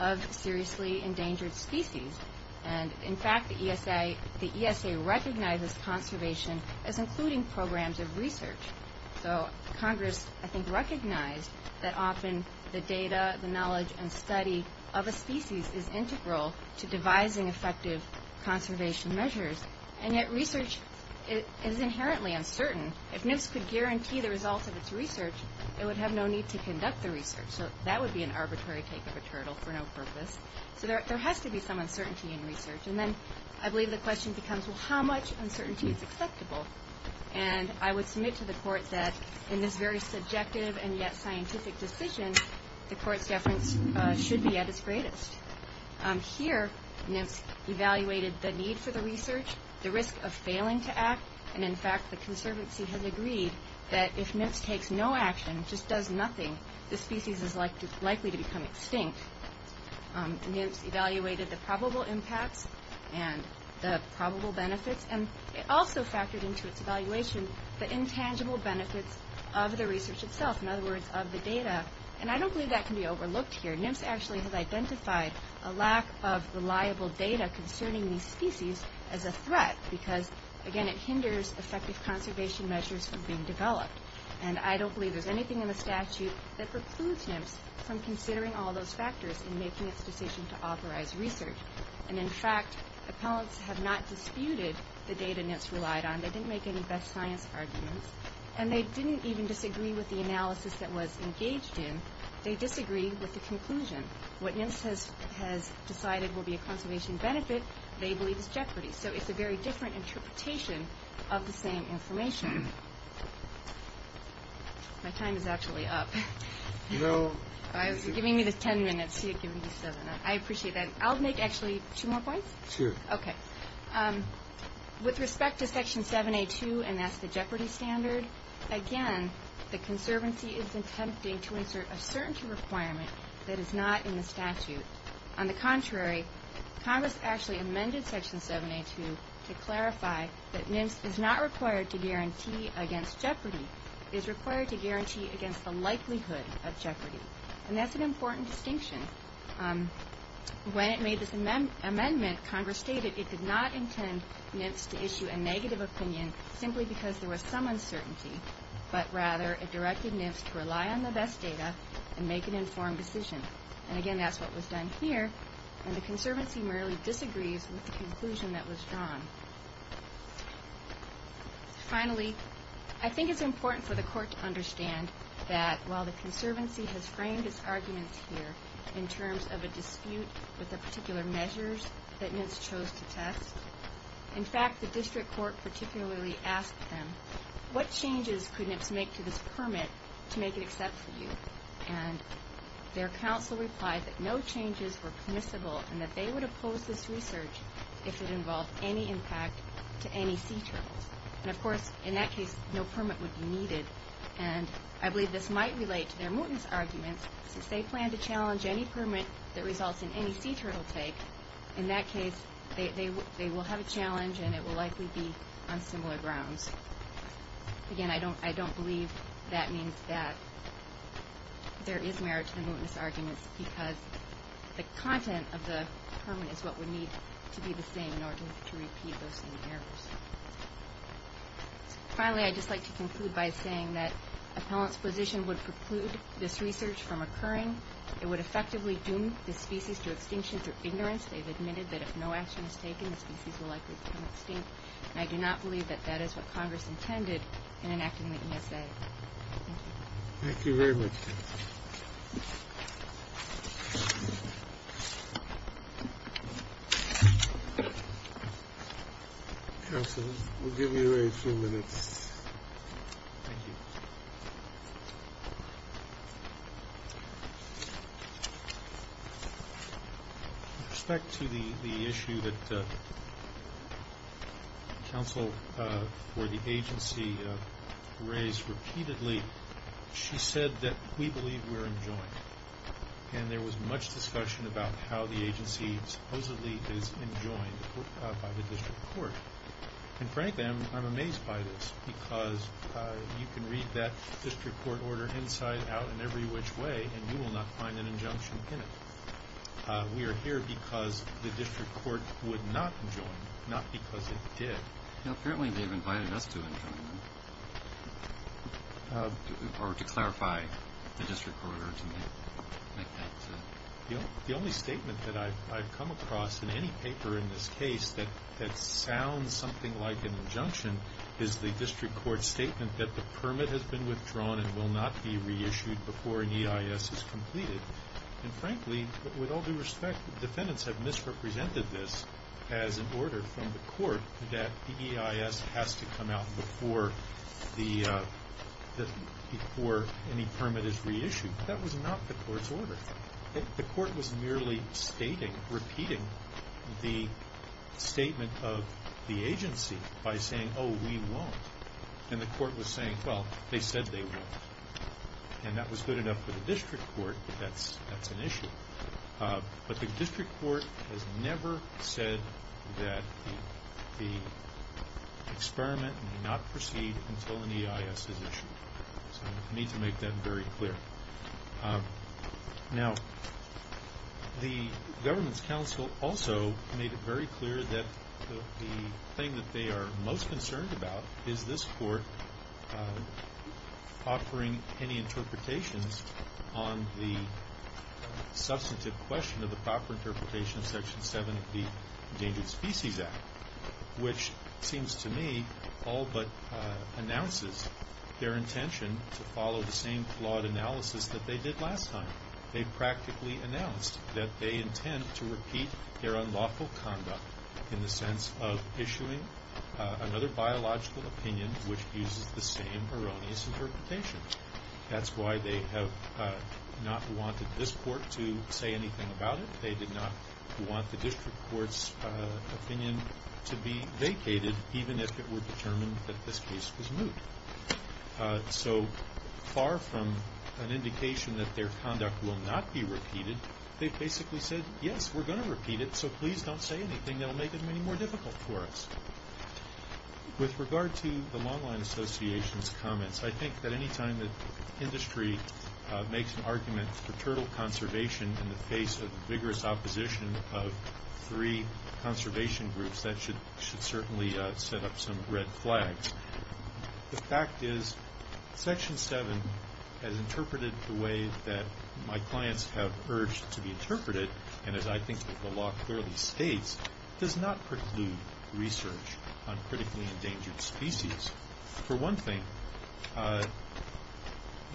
of seriously endangered species. And, in fact, the ESA recognizes conservation as including programs of research. So Congress, I think, recognized that often the data, the knowledge, and study of a species is integral to devising effective conservation measures, and that research is inherently uncertain. If NIFS could guarantee the results of its research, it would have no need to conduct the research. So that would be an arbitrary take of a turtle for no purpose. There has to be some uncertainty in research. And then I believe the question becomes, well, how much uncertainty is acceptable? And I would submit to the court that in this very subjective and yet scientific decision, the court government should be at its greatest. Here, NIFS evaluated the need for the research, the risk of failing to act, and, in fact, the conservancy has agreed that if NIFS takes no action, just does nothing, the species is likely to become extinct. NIFS evaluated the probable impact and the probable benefits, and it also factored into its evaluation the intangible benefits of the research itself, in other words, of the data. And I don't believe that can be overlooked here. NIFS actually has identified a lack of reliable data concerning these species as a threat, because, again, it hinders effective conservation measures from being developed. And I don't believe there's anything in the statute that precludes NIFS from considering all those factors in making its decision to authorize research. And, in fact, appellants have not disputed the data NIFS relied on. They didn't make any best science arguments, and they didn't even disagree with the analysis that was engaged in. They disagreed with the conclusion. What NIFS has decided will be a conservation benefit, they believe is jeopardy. So it's a very different interpretation of the same information. My time is actually up. You're giving me the 10 minutes to make a decision. I appreciate that. I'll make actually two more points. Two. Okay. With respect to Section 7A2 and that's the jeopardy standard, again, the conservancy is attempting to insert a certainty requirement that is not in the statute. On the contrary, Congress actually amended Section 7A2 to clarify that NIFS is not required to guarantee against jeopardy. It is required to guarantee against the likelihood of jeopardy. And that's an important distinction. When it made this amendment, Congress stated it did not intend NIFS to issue a negative opinion simply because there was some uncertainty, but rather it directed NIFS to rely on the best data and make an informed decision. And, again, that's what was done here. And the conservancy merely disagrees with the conclusion that was drawn. Finally, I think it's important for the court to understand that while the conservancy has framed its arguments here in terms of a dispute with the particular measures that NIFS chose to test, in fact, the district court particularly asked them, what changes could NIFS make to this permit to make it acceptable? And their counsel replied that no changes were permissible and that they would oppose this research if it involved any impact to any sea turtle. And, of course, in that case, no permit was needed. And I believe this might relate to their mootness argument that if they plan to challenge any permit that results in any sea turtle case, in that case, they will have a challenge and it will likely be on similar grounds. Again, I don't believe that means that there is merit to the mootness argument because the content of the permit is what would need to be the same in order to repeat those same errors. Finally, I'd just like to conclude by saying that a public position would preclude this research from occurring. It would effectively doom the species to extinction through ignorance. They've admitted that if no action is taken, the species is likely to come extinct. I do not believe that that is what Congress intended in enacting the NFA. Thank you very much. Counsel, we'll give you a very few minutes. Thank you. With respect to the issue that the counsel or the agency raised repeatedly, she said that we believe we're enjoined. And there was much discussion about how the agency supposedly is enjoined by the district court. And frankly, I'm amazed by this because you can read that district court order inside out in every which way and you will not find an injunction in it. We are here because the district court would not enjoin, not because it did. Apparently, they've invited us to enjoin or to clarify the district court. The only statement that I've come across in any paper in this case that sounds something like an injunction is the district court statement that the permit has been withdrawn and will not be reissued before an EIS is completed. And frankly, with all due respect, defendants have misrepresented this as an order from the court that the EIS has to come out before any permit is reissued. That was not the court's order. The court was merely stating, repeating the statement of the agency by saying, oh, we won't. And the court was saying, well, they said they won't. And that was good enough for the district court that that's an issue. But the district court has never said that the experiment will not proceed until an EIS is issued. So we need to make that very clear. Now, the government's counsel also made it very clear that the thing that they are most concerned about is this court offering any interpretations on the substantive question of the proper interpretation section 7 of the Endangered Species Act, which seems to me all but announces their intention to follow the same flawed analysis that they did last time. They practically announced that they intend to repeat their unlawful conduct in the sense of issuing another biological opinion which uses the same erroneous interpretation. That's why they have not wanted this court to say anything about it. They did not want the district court's opinion to be vacated even if it were determined that this case was moot. So far from an indication that their conduct will not be repeated, they basically said, yes, we're going to repeat it, so please don't say anything that will make it any more difficult for us. With regard to the Long Line Association's comments, I think that any time that industry makes an argument for turtle conservation in the face of vigorous opposition of three conservation groups, that should certainly set up some red flags. The fact is, Section 7, as interpreted the way that my clients have urged to be interpreted, and as I think the law clearly states, does not preclude research on critically endangered species. For one thing,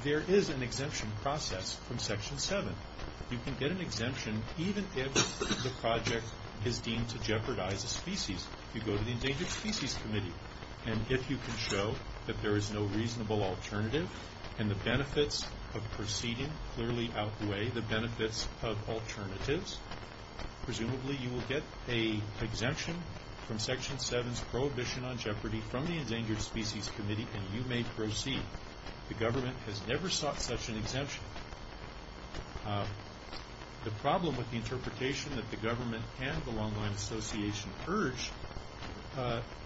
there is an exemption process from Section 7. You can get an exemption even if the project is deemed to jeopardize a species. You go to the Endangered Species Committee, and if you can show that there is no reasonable alternative and the benefits of proceeding clearly outweigh the benefits of alternatives, presumably you will get an exemption from Section 7's Prohibition on Jeopardy from the Endangered Species Committee, and you may proceed. The government has never sought such an exemption. The problem with the interpretation that the government and the Long Line Association urge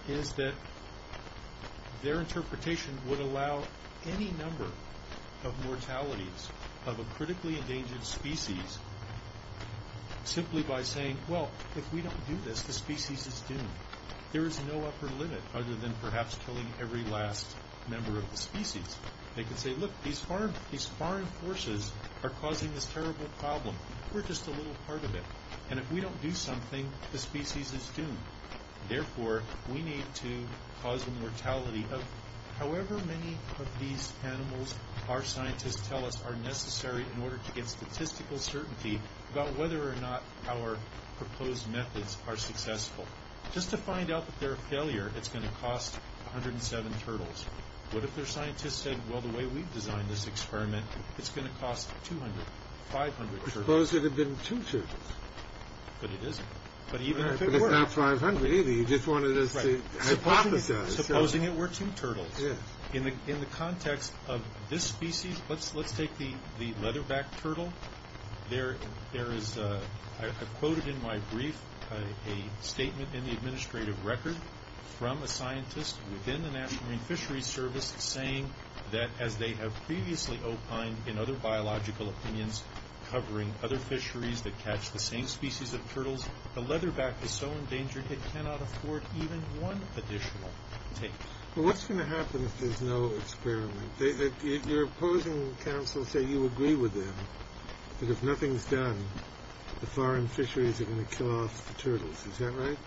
is that their interpretation would allow any number of mortalities of a critically endangered species simply by saying, well, if we don't do this, the species is doomed. There is no upper limit other than perhaps killing every last member of the species. They can say, look, these foreign forces are causing this terrible problem. We're just a little part of it, and if we don't do something, the species is doomed. Therefore, we need to cause a mortality of however many of these animals our scientists tell us are necessary in order to get statistical certainty about whether or not our proposed methods are successful. Just to find out if they're a failure, it's going to cost 107 turtles. What if their scientists said, well, the way we've designed this experiment, it's going to cost 200, 500 turtles? Suppose it had been two turtles. But it isn't. Suppose it works in turtles. In the context of this species, let's take the leatherback turtle. There is, as I quoted in my brief, a statement in the administrative record from a scientist within the National Fisheries Service saying that as they have previously opined in other biological opinions covering other fisheries that catch the same species of turtles, the leatherback is so endangered it cannot afford even one additional case. What's going to happen if there's no experiment? Your opposing counsel say you agree with them, that if nothing's done, the foreign fisheries are going to kill off the turtles. Is that right?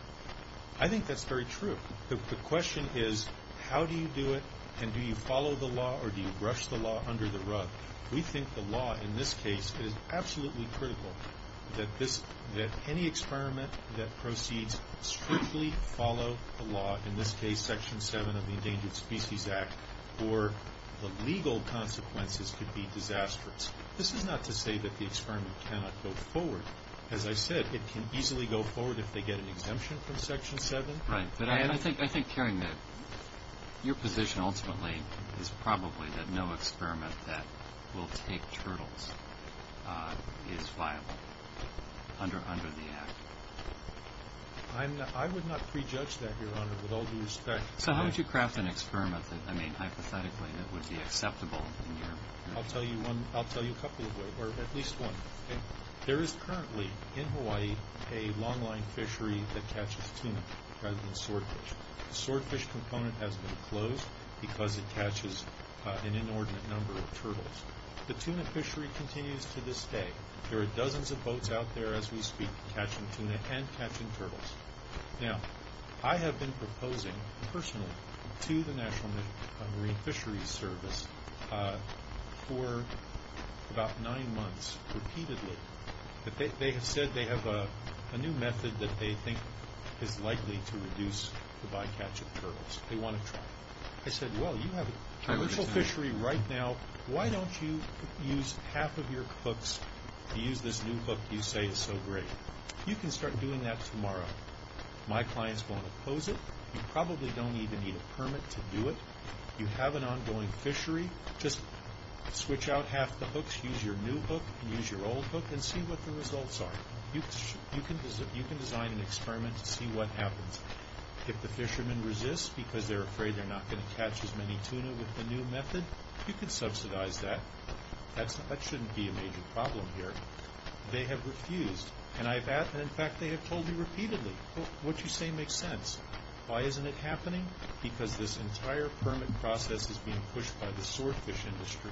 I think that's very true. The question is, how do you do it, and do you follow the law, or do you brush the law under the rug? We think the law in this case is absolutely critical, that any experiment that proceeds strictly follow the law, in this case Section 7 of the Endangered Species Act, or the legal consequences could be disastrous. This is not to say that the experiment cannot go forward. As I said, it can easily go forward if they get an exemption from Section 7. I think, Kerry, that your position ultimately is probably that no experiment that will take turtles is viable under the Act. I would not prejudge that, Your Honor, with all due respect. How would you craft an experiment that, hypothetically, would be acceptable? I'll tell you a couple of them, or at least one. There is currently, in Hawaii, a longline fishery that catches tuna rather than swordfish. The swordfish component has been closed because it catches an inordinate number of turtles. The tuna fishery continues to this day. There are dozens of boats out there, as we speak, catching tuna and catching turtles. Now, I have been proposing, personally, to the National Marine Fisheries Service for about nine months, repeatedly. They have said they have a new method that they think is likely to reduce the bycatch of turtles. They want to try it. I said, well, you have a commercial fishery right now. Why don't you use half of your hooks to use this new hook you say is so great? You can start doing that tomorrow. My clients won't oppose it. You probably don't even need a permit to do it. You have an ongoing fishery. Just switch out half the hooks. Use your new hook and use your old hook and see what the results are. You can design an experiment to see what happens. If the fishermen resist because they're afraid they're not going to catch as many tuna with the new method, you can subsidize that. That shouldn't be a major problem here. They have refused. In fact, they have told me repeatedly, what you say makes sense. Why isn't it happening? Because this entire permit process is being pushed by the swordfish industry.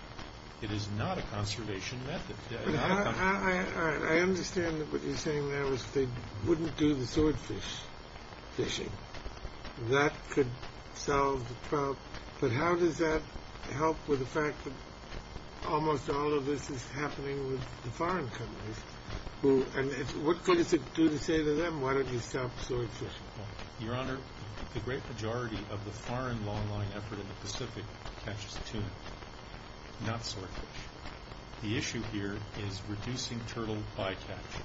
It is not a conservation method. I understand that what you're saying now is they wouldn't do the swordfish fishing. That could solve the problem. But how does that help with the fact that almost all of this is happening with the foreign countries? What could it do to save them? Why don't you stop swordfish? Your Honor, the great majority of the foreign longline effort in the Pacific catches tuna. Not swordfish. The issue here is reducing turtle fly catching.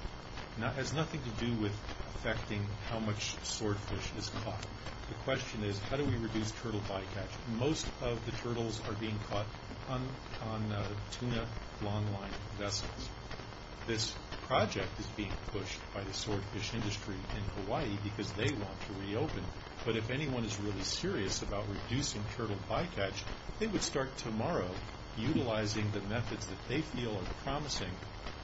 It has nothing to do with affecting how much swordfish is caught. The question is, how do we reduce turtle fly catching? Most of the turtles are being caught on tuna longline. This project is being pushed by the swordfish industry in Hawaii because they want to reopen it. But if anyone is really curious about reducing turtle fly catching, they would start tomorrow utilizing the methods that they feel are promising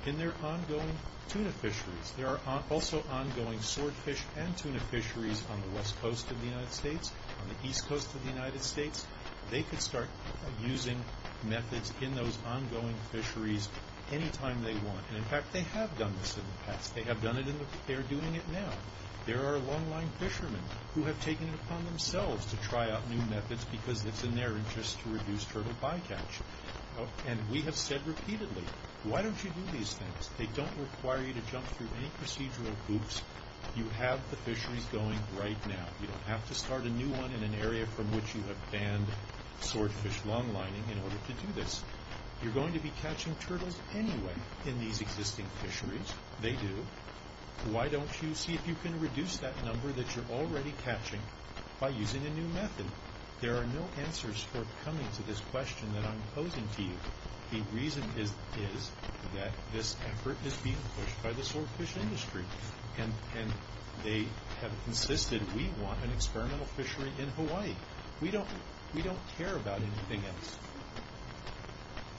in their ongoing tuna fisheries. There are also ongoing swordfish and tuna fisheries on the west coast of the United States, on the east coast of the United States. They could start using methods in those ongoing fisheries anytime they want. In fact, they have done this in the past. They have done it and they're doing it now. There are longline fishermen who have taken it upon themselves to try out new methods because it's in their interest to reduce turtle fly catching. And we have said repeatedly, why don't you do these things? They don't require you to jump through any procedural hoops. You have the fisheries going right now. You don't have to start a new one in an area from which you have banned swordfish longlining in order to do this. You're going to be catching turtles anyway in these existing fisheries. They do. Why don't you see if you can reduce that number that you're already catching by using a new method? There are no answers for coming to this question that I'm posing to you. The reason is that this effort is being pushed by the swordfish industry. And they have insisted we want an experimental fishery in Hawaii. We don't care about anything else.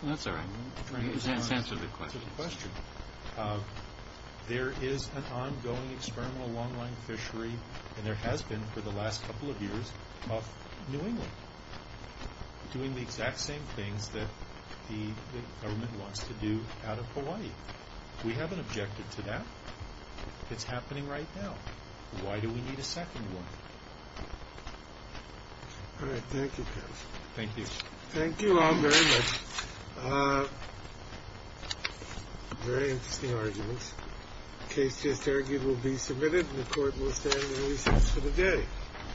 That's all right. You answered the question. There is an ongoing experimental longline fishery, and there has been for the last couple of years, up in New England, doing the exact same thing that the government wants to do out of Hawaii. We haven't objected to that. It's happening right now. Why do we need a second one? Great. Thank you, Chris. Thank you. Thank you all very much. Very interesting arguments. The case just argued will be submitted. The court will stand for the day.